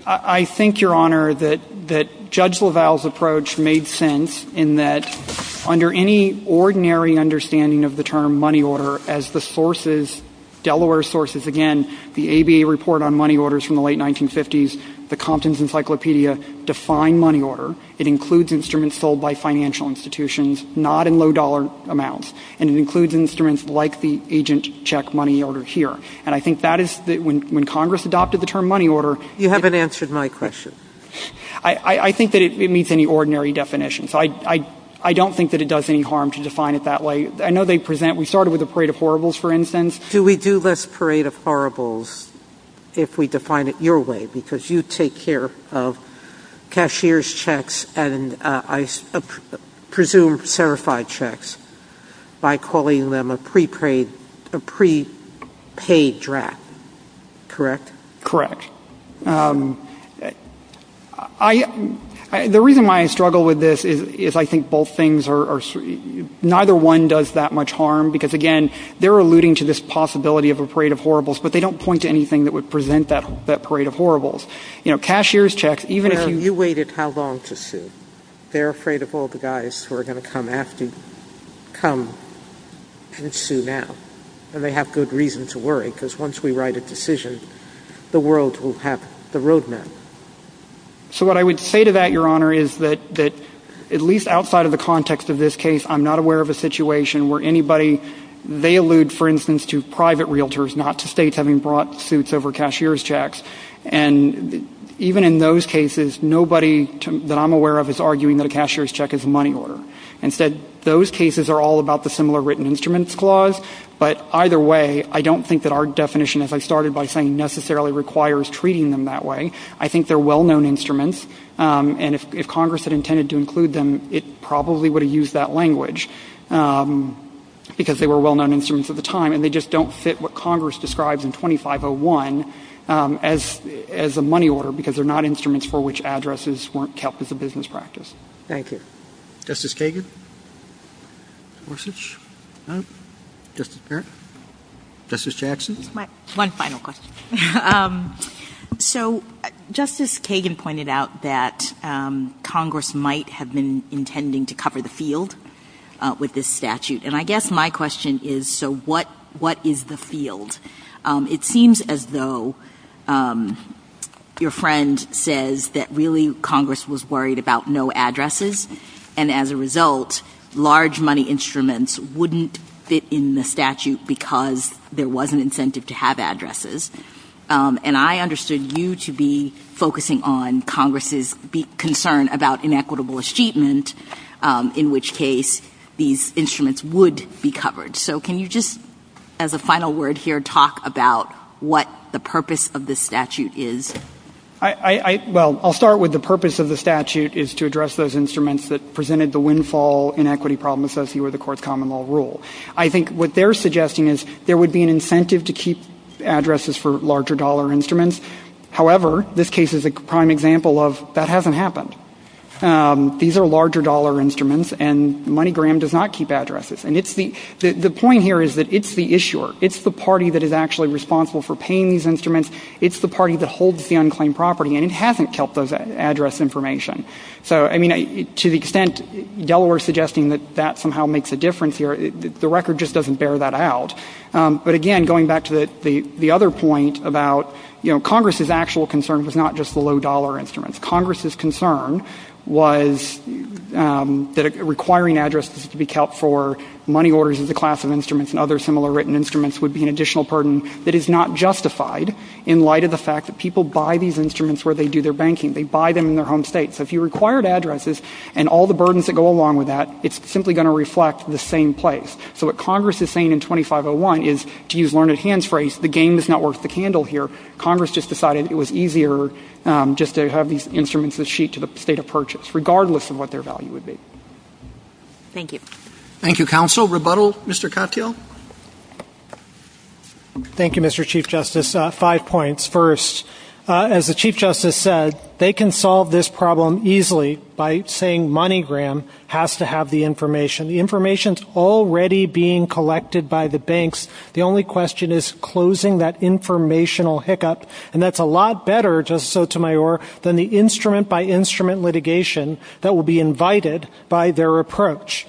I think, Your Honor, that Judge LaValle's approach made sense in that under any ordinary understanding of the term money order, as the sources, Delaware sources, again, the ABA report on money orders from the late 1950s, the Compton's Encyclopedia define money order. It includes instruments sold by financial institutions, not in low-dollar amounts. And it includes instruments like the agent check money order here. And I think that is when Congress adopted the term money order. You haven't answered my question. I think that it meets any ordinary definition. So I don't think that it does any harm to define it that way. I know they present we started with a parade of horribles, for instance. Do we do less parade of horribles if we define it your way? Because you take care of cashier's checks and, I presume, certified checks by calling them a prepaid draft, correct? Correct. The reason why I struggle with this is I think both things are neither one does that much harm, because, again, they're alluding to this possibility of a parade of horribles, but they don't point to anything that would present that parade of horribles. You know, cashier's checks, even if you... Well, you waited how long to sue? They're afraid of all the guys who are going to come after you. Come and sue now. And they have good reason to worry, because once we write a decision, the world will have the roadmap. So what I would say to that, Your Honor, is that at least outside of the context of this case, I'm not aware of a situation where anybody, they allude, for instance, to states having brought suits over cashier's checks, and even in those cases, nobody that I'm aware of is arguing that a cashier's check is a money order. Instead, those cases are all about the similar written instruments clause, but either way, I don't think that our definition, as I started by saying, necessarily requires treating them that way. I think they're well-known instruments, and if Congress had intended to include them, it probably would have used that language, because they were well-known instruments at the time, and they just don't fit what Congress describes in 2501 as a money order, because they're not instruments for which addresses weren't kept as a business practice. Thank you. Justice Kagan? Gorsuch? No? Justice Barrett? Justice Jackson? One final question. So Justice Kagan pointed out that Congress might have been intending to cover the field. It seems as though your friend says that really Congress was worried about no addresses, and as a result, large money instruments wouldn't fit in the statute because there was an incentive to have addresses. And I understood you to be focusing on Congress's concern about inequitable achievement, in which case these instruments would be covered. So can you just, as a final word here, talk about what the purpose of this statute is? Well, I'll start with the purpose of the statute is to address those instruments that presented the windfall inequity problem associated with the Court's common law rule. I think what they're suggesting is there would be an incentive to keep addresses for larger dollar instruments. However, this case is a prime example of that hasn't happened. These are larger dollar instruments, and MoneyGram does not keep addresses. And the point here is that it's the issuer. It's the party that is actually responsible for paying these instruments. It's the party that holds the unclaimed property, and it hasn't kept those address information. So, I mean, to the extent Delaware is suggesting that that somehow makes a difference here, the record just doesn't bear that out. But, again, going back to the other point about, you know, Congress's actual concern was not just the low dollar instruments. Congress's concern was that requiring addresses to be kept for money orders of the class of instruments and other similar written instruments would be an additional burden that is not justified in light of the fact that people buy these instruments where they do their banking. They buy them in their home state. So if you required addresses and all the burdens that go along with that, it's simply going to reflect the same place. So what Congress is saying in 2501 is, to use Learned Hand's phrase, the game is not worth the candle here. Congress just decided it was easier just to have these instruments that sheet to the state of purchase, regardless of what their value would be. Thank you. Thank you, Counsel. Rebuttal, Mr. Cotteel. Thank you, Mr. Chief Justice. Five points. First, as the Chief Justice said, they can solve this problem easily by saying MoneyGram has to have the information. The information is already being collected by the banks. The only question is closing that informational hiccup. And that's a lot better, Justice Sotomayor, than the instrument-by-instrument litigation that will be invited by their approach.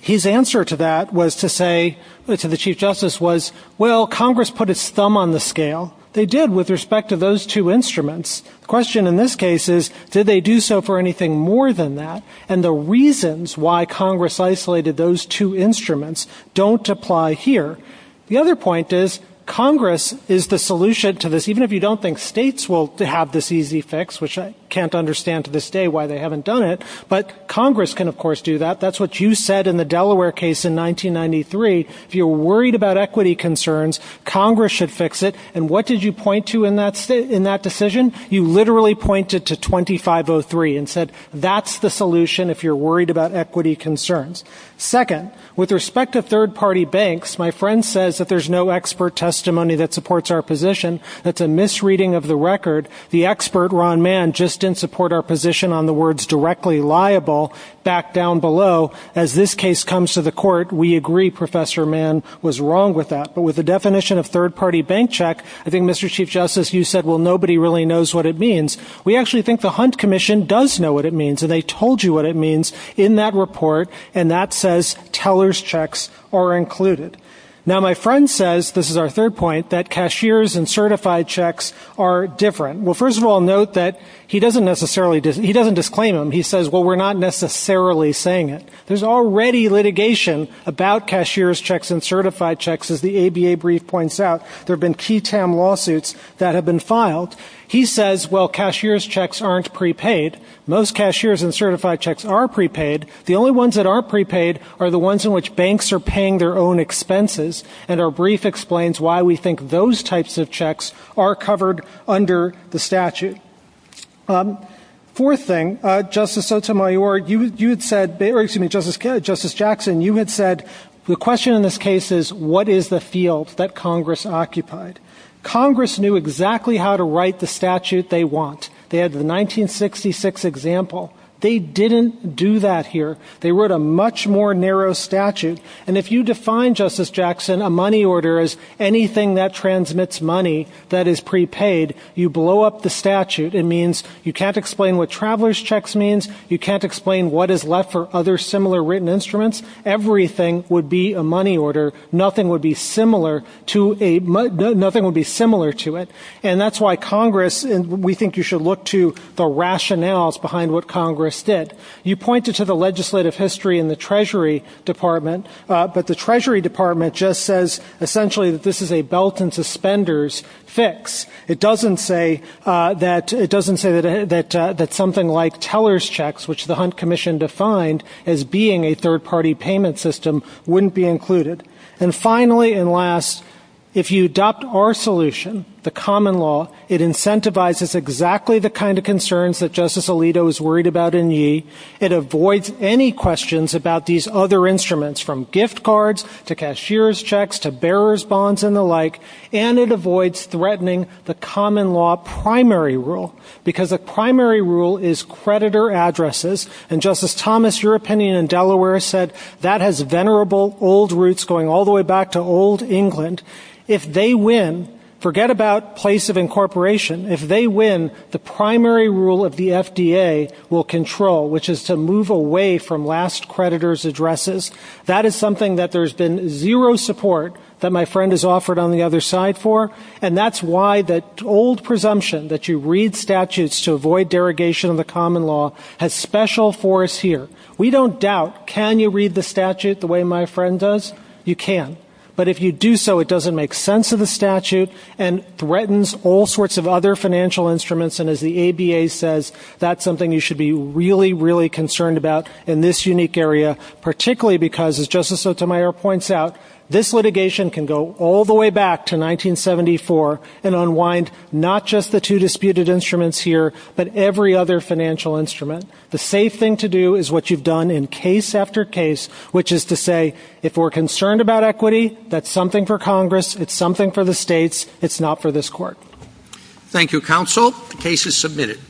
His answer to that was to say, to the Chief Justice, was, well, Congress put its thumb on the scale. They did with respect to those two instruments. The question in this case is, did they do so for anything more than that? And the reasons why Congress isolated those two instruments don't apply here. The other point is, Congress is the solution to this. Even if you don't think states will have this easy fix, which I can't understand to this day why they haven't done it, but Congress can, of course, do that. That's what you said in the Delaware case in 1993. If you're worried about equity concerns, Congress should fix it. And what did you point to in that decision? You literally pointed to 2503 and said, that's the solution if you're worried about equity concerns. Second, with respect to third-party banks, my friend says that there's no expert testimony that supports our position. That's a misreading of the record. The expert, Ron Mann, just didn't support our position on the words directly liable back down below. As this case comes to the court, we agree Professor Mann was wrong with that. But with the definition of third-party bank check, I think, Mr. Chief Justice, you said, well, nobody really knows what it means. We actually think the Hunt Commission does know what it means, and they told you what it means in that report, and that says tellers' checks are included. Now, my friend says, this is our third point, that cashiers' and certified checks are different. Well, first of all, note that he doesn't necessarily disclaim them. He says, well, we're not necessarily saying it. There's already litigation about cashiers' checks and certified checks, as the ABA brief points out. There have been key TAM lawsuits that have been filed. He says, well, cashiers' checks aren't prepaid. Most cashiers' and certified checks are prepaid. The only ones that aren't prepaid are the ones in which banks are paying their own expenses, and our brief explains why we think those types of checks are covered under the statute. Fourth thing, Justice Sotomayor, you had said, or excuse me, Justice Jackson, you had said, the question in this case is, what is the field that Congress occupied? Congress knew exactly how to write the statute they want. They had the 1966 example. They didn't do that here. They wrote a much more narrow statute, and if you define, Justice Jackson, a money order as anything that transmits money that is prepaid, you blow up the statute. It means you can't explain what travelers' checks means, you can't explain what is left for other similar written instruments. Everything would be a money order. Nothing would be similar to it, and that's why Congress, we think you should look to the rationales behind what Congress did. You pointed to the legislative history in the Treasury Department, but the Treasury Department just says, essentially, that this is a belt and suspenders fix. It doesn't say that something like tellers' checks, which the Hunt Commission defined as being a third-party payment system, wouldn't be included. And finally and last, if you adopt our solution, the common law, it incentivizes exactly the kind of concerns that Justice Alito is worried about in Yee. It avoids any questions about these other instruments, from gift cards to cashier's checks to bearer's bonds and the like, and it avoids threatening the common law primary rule, because the primary rule is creditor addresses and Justice Thomas, your opinion in Delaware said that has venerable old roots going all the way back to old England. If they win, forget about place of incorporation, if they win, the primary rule of the FDA will control, which is to move away from last creditor's addresses. That is something that there's been zero support that my friend has offered on the other side for, and that's why that old presumption that you read litigation of the common law has special force here. We don't doubt, can you read the statute the way my friend does? You can. But if you do so, it doesn't make sense of the statute and threatens all sorts of other financial instruments, and as the ABA says, that's something you should be really, really concerned about in this unique area, particularly because, as Justice Sotomayor points out, this litigation can go all the way back to 1974 and unwind not just the two disputed instruments here, but every other financial instrument. The safe thing to do is what you've done in case after case, which is to say if we're concerned about equity, that's something for Congress, it's something for the states, it's not for this Court. Thank you, Counsel. The case is submitted.